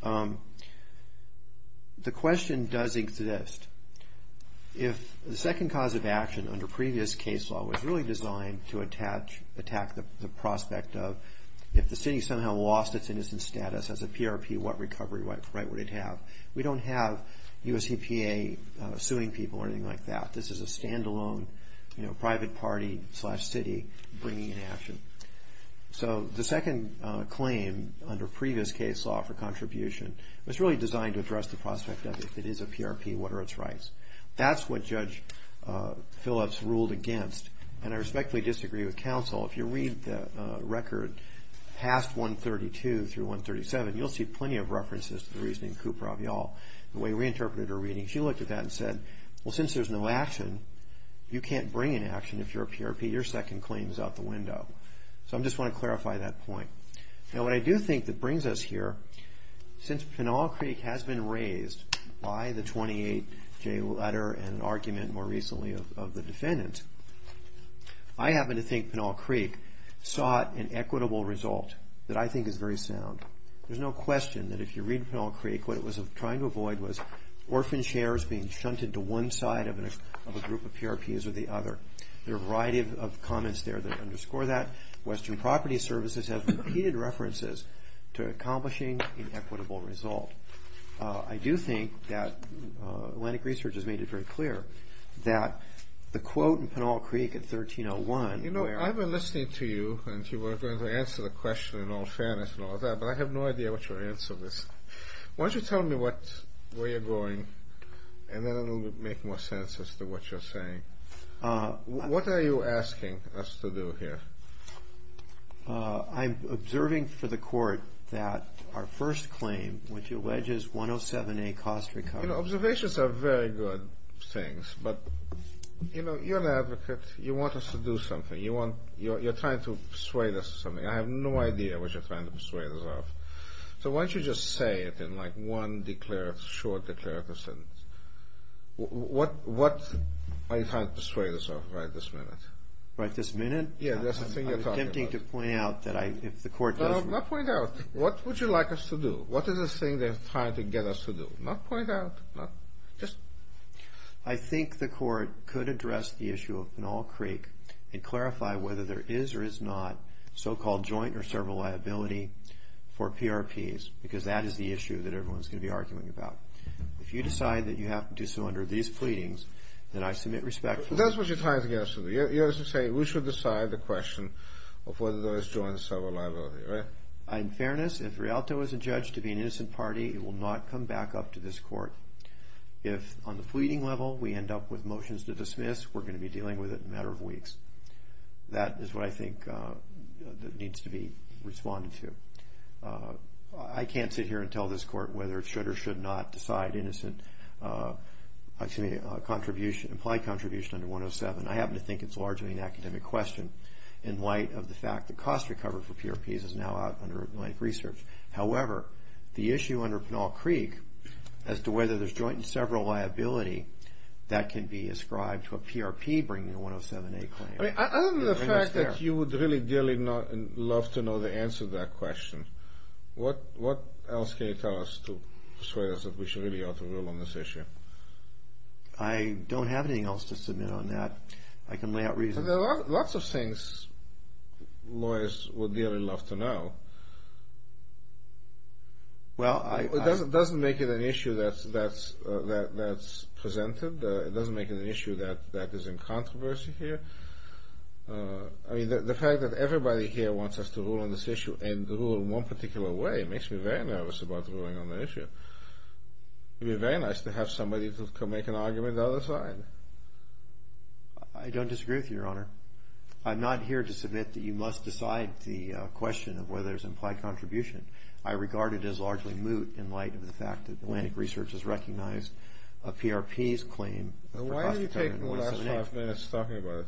The question does exist. If the second cause of action under previous case law was really designed to attack the prospect of if the city somehow lost its innocent status as a PRP, what recovery right would it have? We don't have US EPA suing people or anything like that. This is a standalone private party slash city bringing in action. So the second claim under previous case law for contribution was really designed to address the prospect of if it is a PRP, what are its rights? That's what Judge Phillips ruled against, and I respectfully disagree with counsel. If you read the record past 132 through 137, you'll see plenty of references to the reasoning of Cooper Avial, the way we interpreted her readings. She looked at that and said, well, since there's no action, you can't bring in action if you're a PRP. Your second claim is out the window. So I just want to clarify that point. Now, what I do think that brings us here, since Pinal Creek has been raised by the 28-J letter and argument more recently of the defendant, I happen to think Pinal Creek sought an equitable result that I think is very sound. There's no question that if you read Pinal Creek, what it was trying to avoid was orphan shares being shunted to one side of a group of PRPs or the other. There are a variety of comments there that underscore that. Western Property Services has repeated references to accomplishing an equitable result. I do think that Atlantic Research has made it very clear that the quote in Pinal Creek at 1301... You know, I've been listening to you, and you were going to answer the question in all fairness and all of that, but I have no idea what your answer is. Why don't you tell me where you're going, and then it will make more sense as to what you're saying. What are you asking us to do here? I'm observing for the court that our first claim, which alleges 107A cost recovery... You know, observations are very good things, but, you know, you're an advocate. You want us to do something. You're trying to persuade us of something. I have no idea what you're trying to persuade us of. So why don't you just say it in, like, one short declarative sentence. What are you trying to persuade us of right this minute? Right this minute? Yeah, that's the thing you're talking about. I'm attempting to point out that if the court doesn't... No, not point out. What would you like us to do? What is this thing they're trying to get us to do? Not point out. Just... I think the court could address the issue of Pinal Creek and clarify whether there is or is not so-called joint or several liability for PRPs, because that is the issue that everyone's going to be arguing about. If you decide that you have to do so under these pleadings, then I submit respect for... That's what you're trying to get us to do. You're saying we should decide the question of whether there is joint or several liability, right? In fairness, if Rialto is adjudged to be an innocent party, it will not come back up to this court. If, on the pleading level, we end up with motions to dismiss, we're going to be dealing with it in a matter of weeks. That is what I think needs to be responded to. I can't sit here and tell this court whether it should or should not decide innocent contribution, implied contribution under 107. I happen to think it's largely an academic question in light of the fact that cost recovery for PRPs is now out under Atlantic Research. However, the issue under Pinal Creek as to whether there's joint and several liability, that can be ascribed to a PRP bringing a 107A claim. Other than the fact that you would really dearly love to know the answer to that question, what else can you tell us to persuade us that we should really ought to rule on this issue? I don't have anything else to submit on that. I can lay out reasons. There are lots of things lawyers would really love to know. It doesn't make it an issue that's presented. It doesn't make it an issue that is in controversy here. The fact that everybody here wants us to rule on this issue and to rule in one particular way makes me very nervous about ruling on the issue. It would be very nice to have somebody to make an argument on the other side. I don't disagree with you, Your Honor. I'm not here to submit that you must decide the question of whether there's implied contribution. I regard it as largely moot in light of the fact that Atlantic Research has recognized a PRP's claim. Why are you taking the last five minutes talking about it?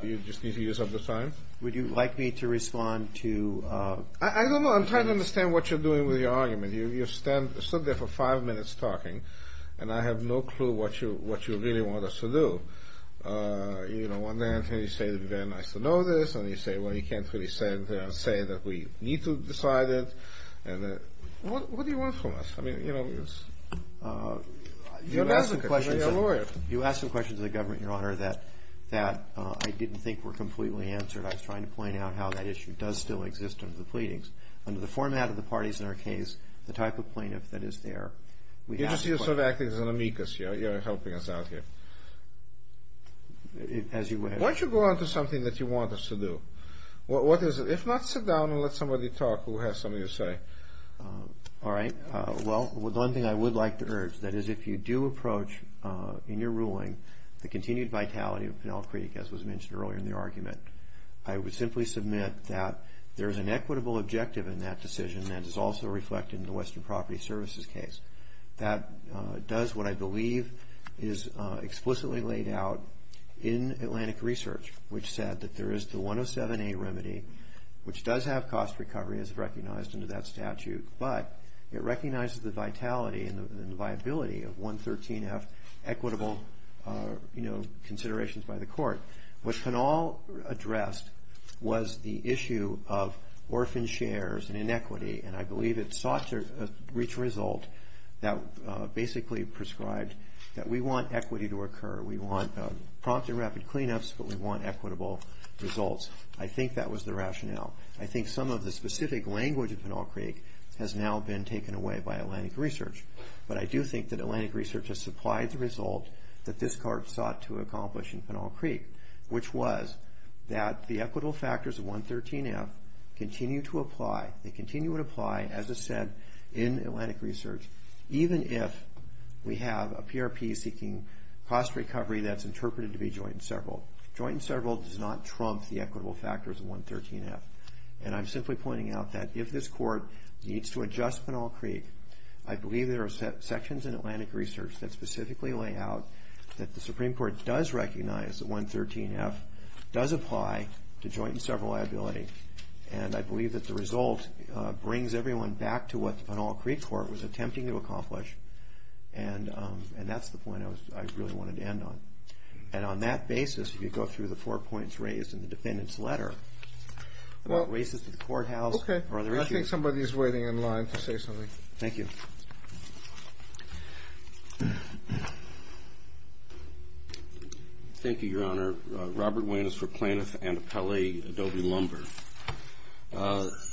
Do you just need to use up the time? Would you like me to respond to? I don't know. I'm trying to understand what you're doing with your argument. You've stood there for five minutes talking, and I have no clue what you really want us to do. You know, one day I hear you say it would be very nice to know this, and you say, well, you can't really say that we need to decide it. What do you want from us? I mean, you know, you're a lawyer. You asked some questions of the government, Your Honor, that I didn't think were completely answered. I was trying to point out how that issue does still exist under the pleadings. Under the format of the parties in our case, the type of plaintiff that is there. You're just sort of acting as an amicus. You're helping us out here. As you wish. Why don't you go on to something that you want us to do? What is it? If not, sit down and let somebody talk who has something to say. All right. Well, one thing I would like to urge, that is if you do approach in your ruling the continued vitality of Penel Creek, as was mentioned earlier in the argument, I would simply submit that there is an equitable objective in that decision that is also reflected in the Western Property Services case. That does what I believe is explicitly laid out in Atlantic Research, which said that there is the 107A remedy, which does have cost recovery as recognized under that statute, but it recognizes the vitality and the viability of 113F equitable considerations by the court. What Penel addressed was the issue of orphan shares and inequity, and I believe it sought to reach a result that basically prescribed that we want equity to occur. We want prompt and rapid cleanups, but we want equitable results. I think that was the rationale. I think some of the specific language of Penel Creek has now been taken away by Atlantic Research, but I do think that Atlantic Research has supplied the result that this court sought to accomplish in Penel Creek, which was that the equitable factors of 113F continue to apply. They continue to apply, as I said, in Atlantic Research, even if we have a PRP seeking cost recovery that's interpreted to be joint and several. Joint and several does not trump the equitable factors of 113F, and I'm simply pointing out that if this court needs to adjust Penel Creek, I believe there are sections in Atlantic Research that specifically lay out that the Supreme Court does recognize that 113F does apply to joint and several liability, and I believe that the result brings everyone back to what the Penel Creek Court was attempting to accomplish, and that's the point I really wanted to end on. And on that basis, if you go through the four points raised in the defendant's letter about races to the courthouse or other issues. Okay. I think somebody is waiting in line to say something. Thank you. Thank you, Your Honor. Robert Wayne is for Plaintiff and Appellee Adobe Lumber.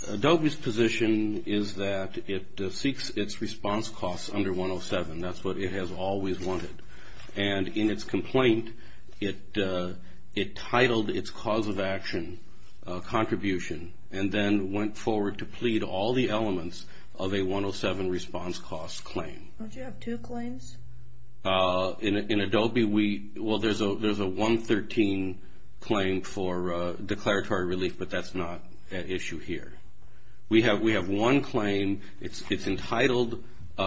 Adobe's position is that it seeks its response costs under 107. That's what it has always wanted. And in its complaint, it titled its cause of action contribution and then went forward to plead all the elements of a 107 response cost claim. Don't you have two claims? In Adobe, well, there's a 113 claim for declaratory relief, but that's not at issue here. We have one claim. It's entitled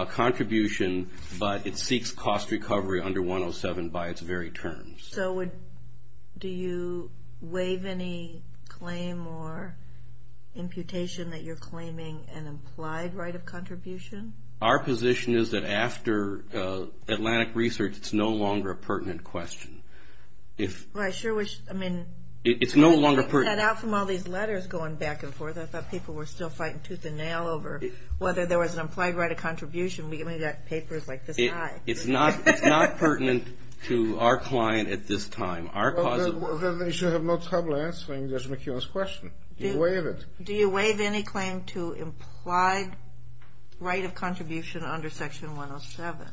contribution, but it seeks cost recovery under 107 by its very terms. So do you waive any claim or imputation that you're claiming an implied right of contribution? Our position is that after Atlantic Research, it's no longer a pertinent question. Well, I sure wish. I mean, it's no longer pertinent. I'm getting that out from all these letters going back and forth. I thought people were still fighting tooth and nail over whether there was an implied right of contribution. We've only got papers like this high. It's not pertinent to our client at this time. Well, then they should have no trouble answering Judge McKeon's question. Do you waive it? Do you waive any claim to implied right of contribution under Section 107?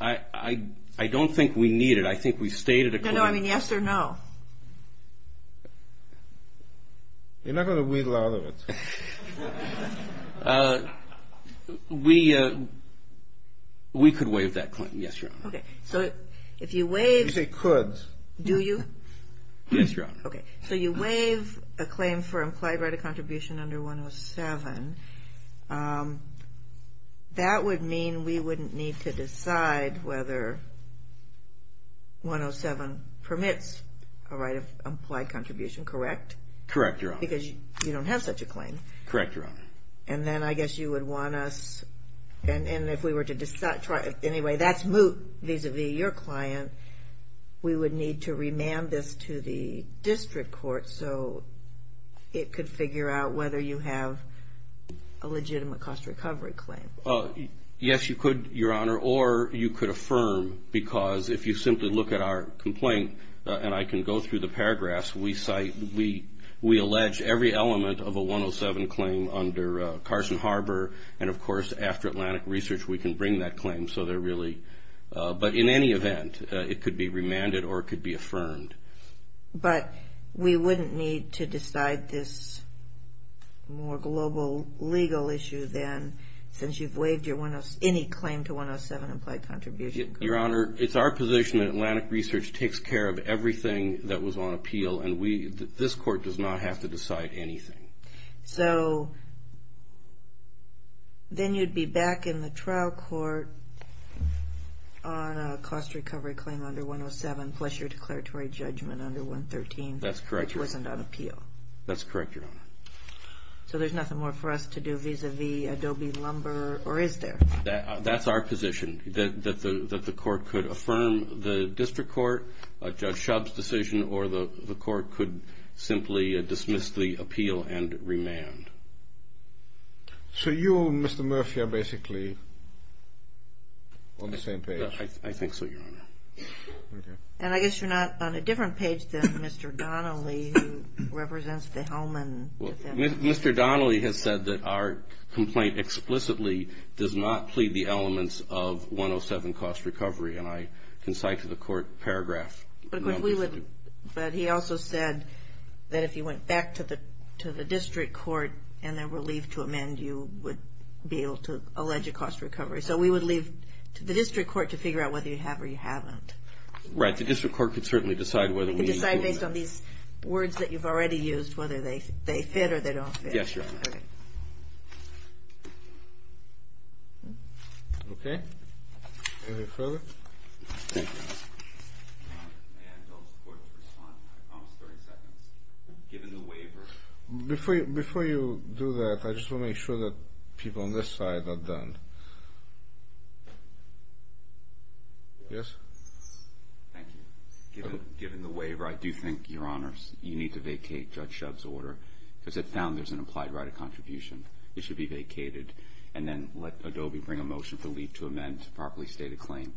I don't think we need it. I think we've stated a claim. No, no. I mean, yes or no? You're not going to wheedle out of it. We could waive that claim. Yes, Your Honor. Okay. So if you waive. You say could. Do you? Yes, Your Honor. Okay. So you waive a claim for implied right of contribution under 107. That would mean we wouldn't need to decide whether 107 permits a right of implied contribution, correct? Correct, Your Honor. Because you don't have such a claim. Correct, Your Honor. And then I guess you would want us. And if we were to decide. Anyway, that's moot vis-a-vis your client. We would need to remand this to the district court so it could figure out whether you have a legitimate cost recovery claim. Yes, you could, Your Honor. Or you could affirm. Because if you simply look at our complaint, and I can go through the paragraphs, we allege every element of a 107 claim under Carson Harbor. And, of course, after Atlantic Research we can bring that claim. But in any event, it could be remanded or it could be affirmed. But we wouldn't need to decide this more global legal issue then since you've waived any claim to 107 implied contribution. Your Honor, it's our position that Atlantic Research takes care of everything that was on appeal, and this court does not have to decide anything. So then you'd be back in the trial court on a cost recovery claim under 107 plus your declaratory judgment under 113. That's correct, Your Honor. Which wasn't on appeal. That's correct, Your Honor. So there's nothing more for us to do vis-a-vis Adobe Lumber, or is there? That's our position, that the court could affirm the district court, Judge Shub's decision, or the court could simply dismiss the appeal and remand. So you and Mr. Murphy are basically on the same page. I think so, Your Honor. And I guess you're not on a different page than Mr. Donnelly, who represents the Hellman. Mr. Donnelly has said that our complaint explicitly does not plead the elements of 107 cost recovery, and I can cite to the court paragraph. But he also said that if you went back to the district court and they were relieved to amend, you would be able to allege a cost recovery. So we would leave it to the district court to figure out whether you have or you haven't. Right. The district court could certainly decide whether we need to do that. Based on these words that you've already used, whether they fit or they don't fit. Yes, Your Honor. Okay. Anything further? Before you do that, I just want to make sure that people on this side are done. Yes? Thank you. Given the waiver, I do think, Your Honors, you need to vacate Judge Shub's order, because it found there's an implied right of contribution. It should be vacated, and then let Adobe bring a motion to leave to amend to properly state a claim.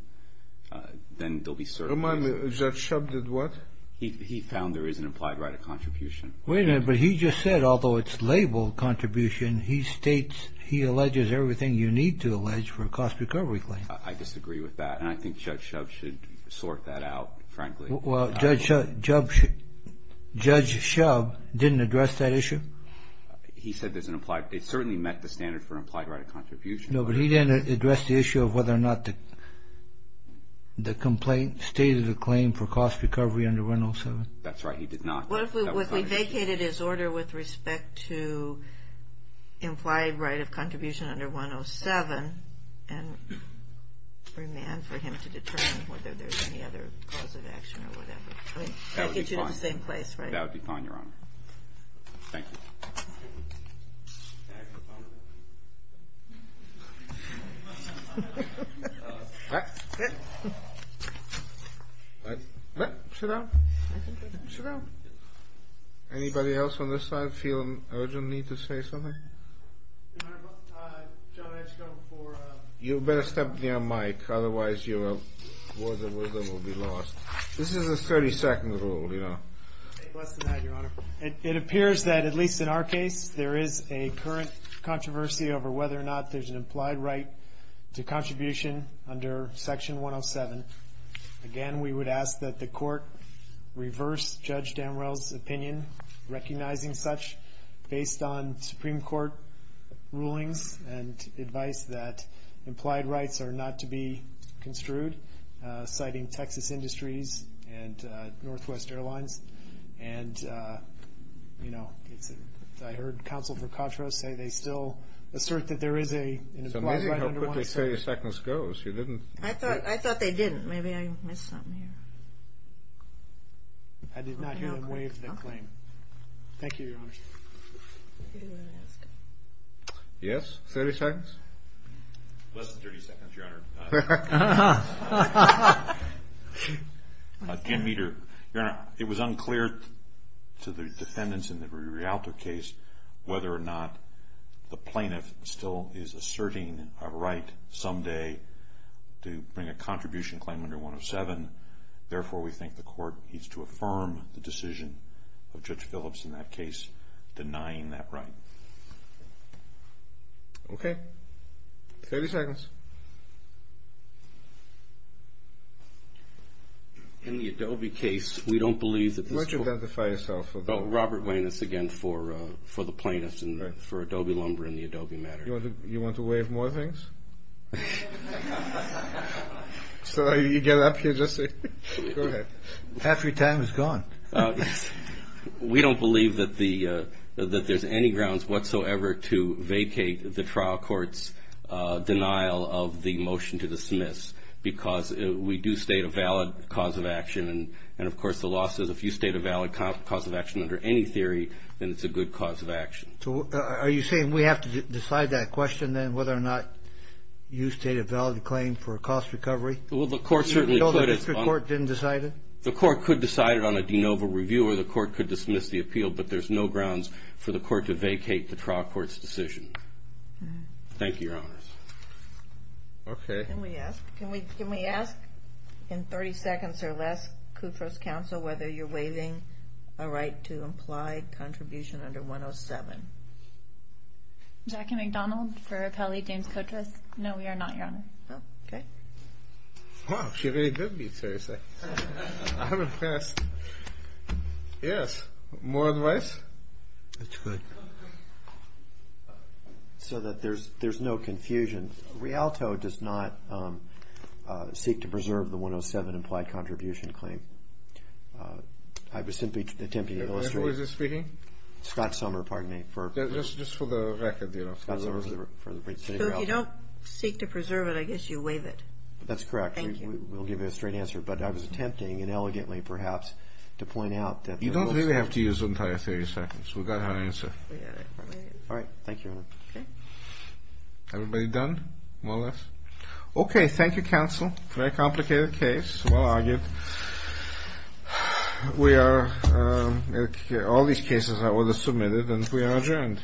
Then there'll be certainty. Remind me, Judge Shub did what? He found there is an implied right of contribution. Wait a minute, but he just said, although it's labeled contribution, he states he alleges everything you need to allege for a cost recovery claim. I disagree with that. And I think Judge Shub should sort that out, frankly. Well, Judge Shub didn't address that issue? He said there's an implied. It certainly met the standard for implied right of contribution. No, but he didn't address the issue of whether or not the complaint stated a claim for cost recovery under 107. That's right. He did not. What if we vacated his order with respect to implied right of contribution under 107 and remanded for him to determine whether there's any other cause of action or whatever? That would get you to the same place, right? That would be fine, Your Honor. Thank you. Sit down. Sit down. Anybody else on this side feel urgent need to say something? Your Honor, John, I just don't before. You better step near Mike. Otherwise, your words of wisdom will be lost. This is a 30-second rule, you know. Less than that, Your Honor. It appears that, at least in our case, there is a current controversy over whether or not there's an implied right to contribution under Section 107. Again, we would ask that the court reverse Judge Damrell's opinion, recognizing such, based on Supreme Court rulings and advice that implied rights are not to be construed, citing Texas Industries and Northwest Airlines. And, you know, I heard Counsel for Contra say they still assert that there is an implied right under 107. So maybe how quickly 30 seconds goes. I thought they didn't. Maybe I missed something here. I did not hear them waive the claim. Thank you, Your Honor. Yes? 30 seconds? Less than 30 seconds, Your Honor. Again, Your Honor, it was unclear to the defendants in the Rialto case whether or not the plaintiff still is asserting a right someday to bring a contribution claim under 107. Therefore, we think the court needs to affirm the decision of Judge Phillips in that case denying that right. Okay. 30 seconds. In the Adobe case, we don't believe that this court Why don't you identify yourself? Robert Weiners again for the plaintiffs and for Adobe Lumber and the Adobe matter. You want to waive more things? So you get up here just to go ahead. Half your time is gone. We don't believe that there's any grounds whatsoever to vacate the trial court's denial of the motion to dismiss because we do state a valid cause of action. And, of course, the law says if you state a valid cause of action under any theory, then it's a good cause of action. So are you saying we have to decide that question then, whether or not you state a valid claim for a cost recovery? Well, the court certainly could. The district court didn't decide it? The court could decide it on a de novo review or the court could dismiss the appeal, but there's no grounds for the court to vacate the trial court's decision. Thank you, Your Honors. Okay. Can we ask in 30 seconds or less, Kutro's counsel, whether you're waiving a right to imply contribution under 107? Jackie McDonald for Appellee James Kutros. No, we are not, Your Honor. Oh, okay. Wow. She really did beat 30 seconds. I'm impressed. Yes. More advice? That's good. So that there's no confusion, Rialto does not seek to preserve the 107 implied contribution claim. I was simply attempting to illustrate. Who is this speaking? Scott Sommer, pardon me. Just for the record, you know. Scott Sommer. So if you don't seek to preserve it, I guess you waive it. That's correct. Thank you. We'll give you a straight answer. But I was attempting, and elegantly perhaps, to point out that. You don't really have to use the entire 30 seconds. We got our answer. We got it. All right. Thank you, Your Honor. Okay. Everybody done? More or less? Okay. Thank you, counsel. Very complicated case. Well argued. We are, all these cases are submitted and we are adjourned.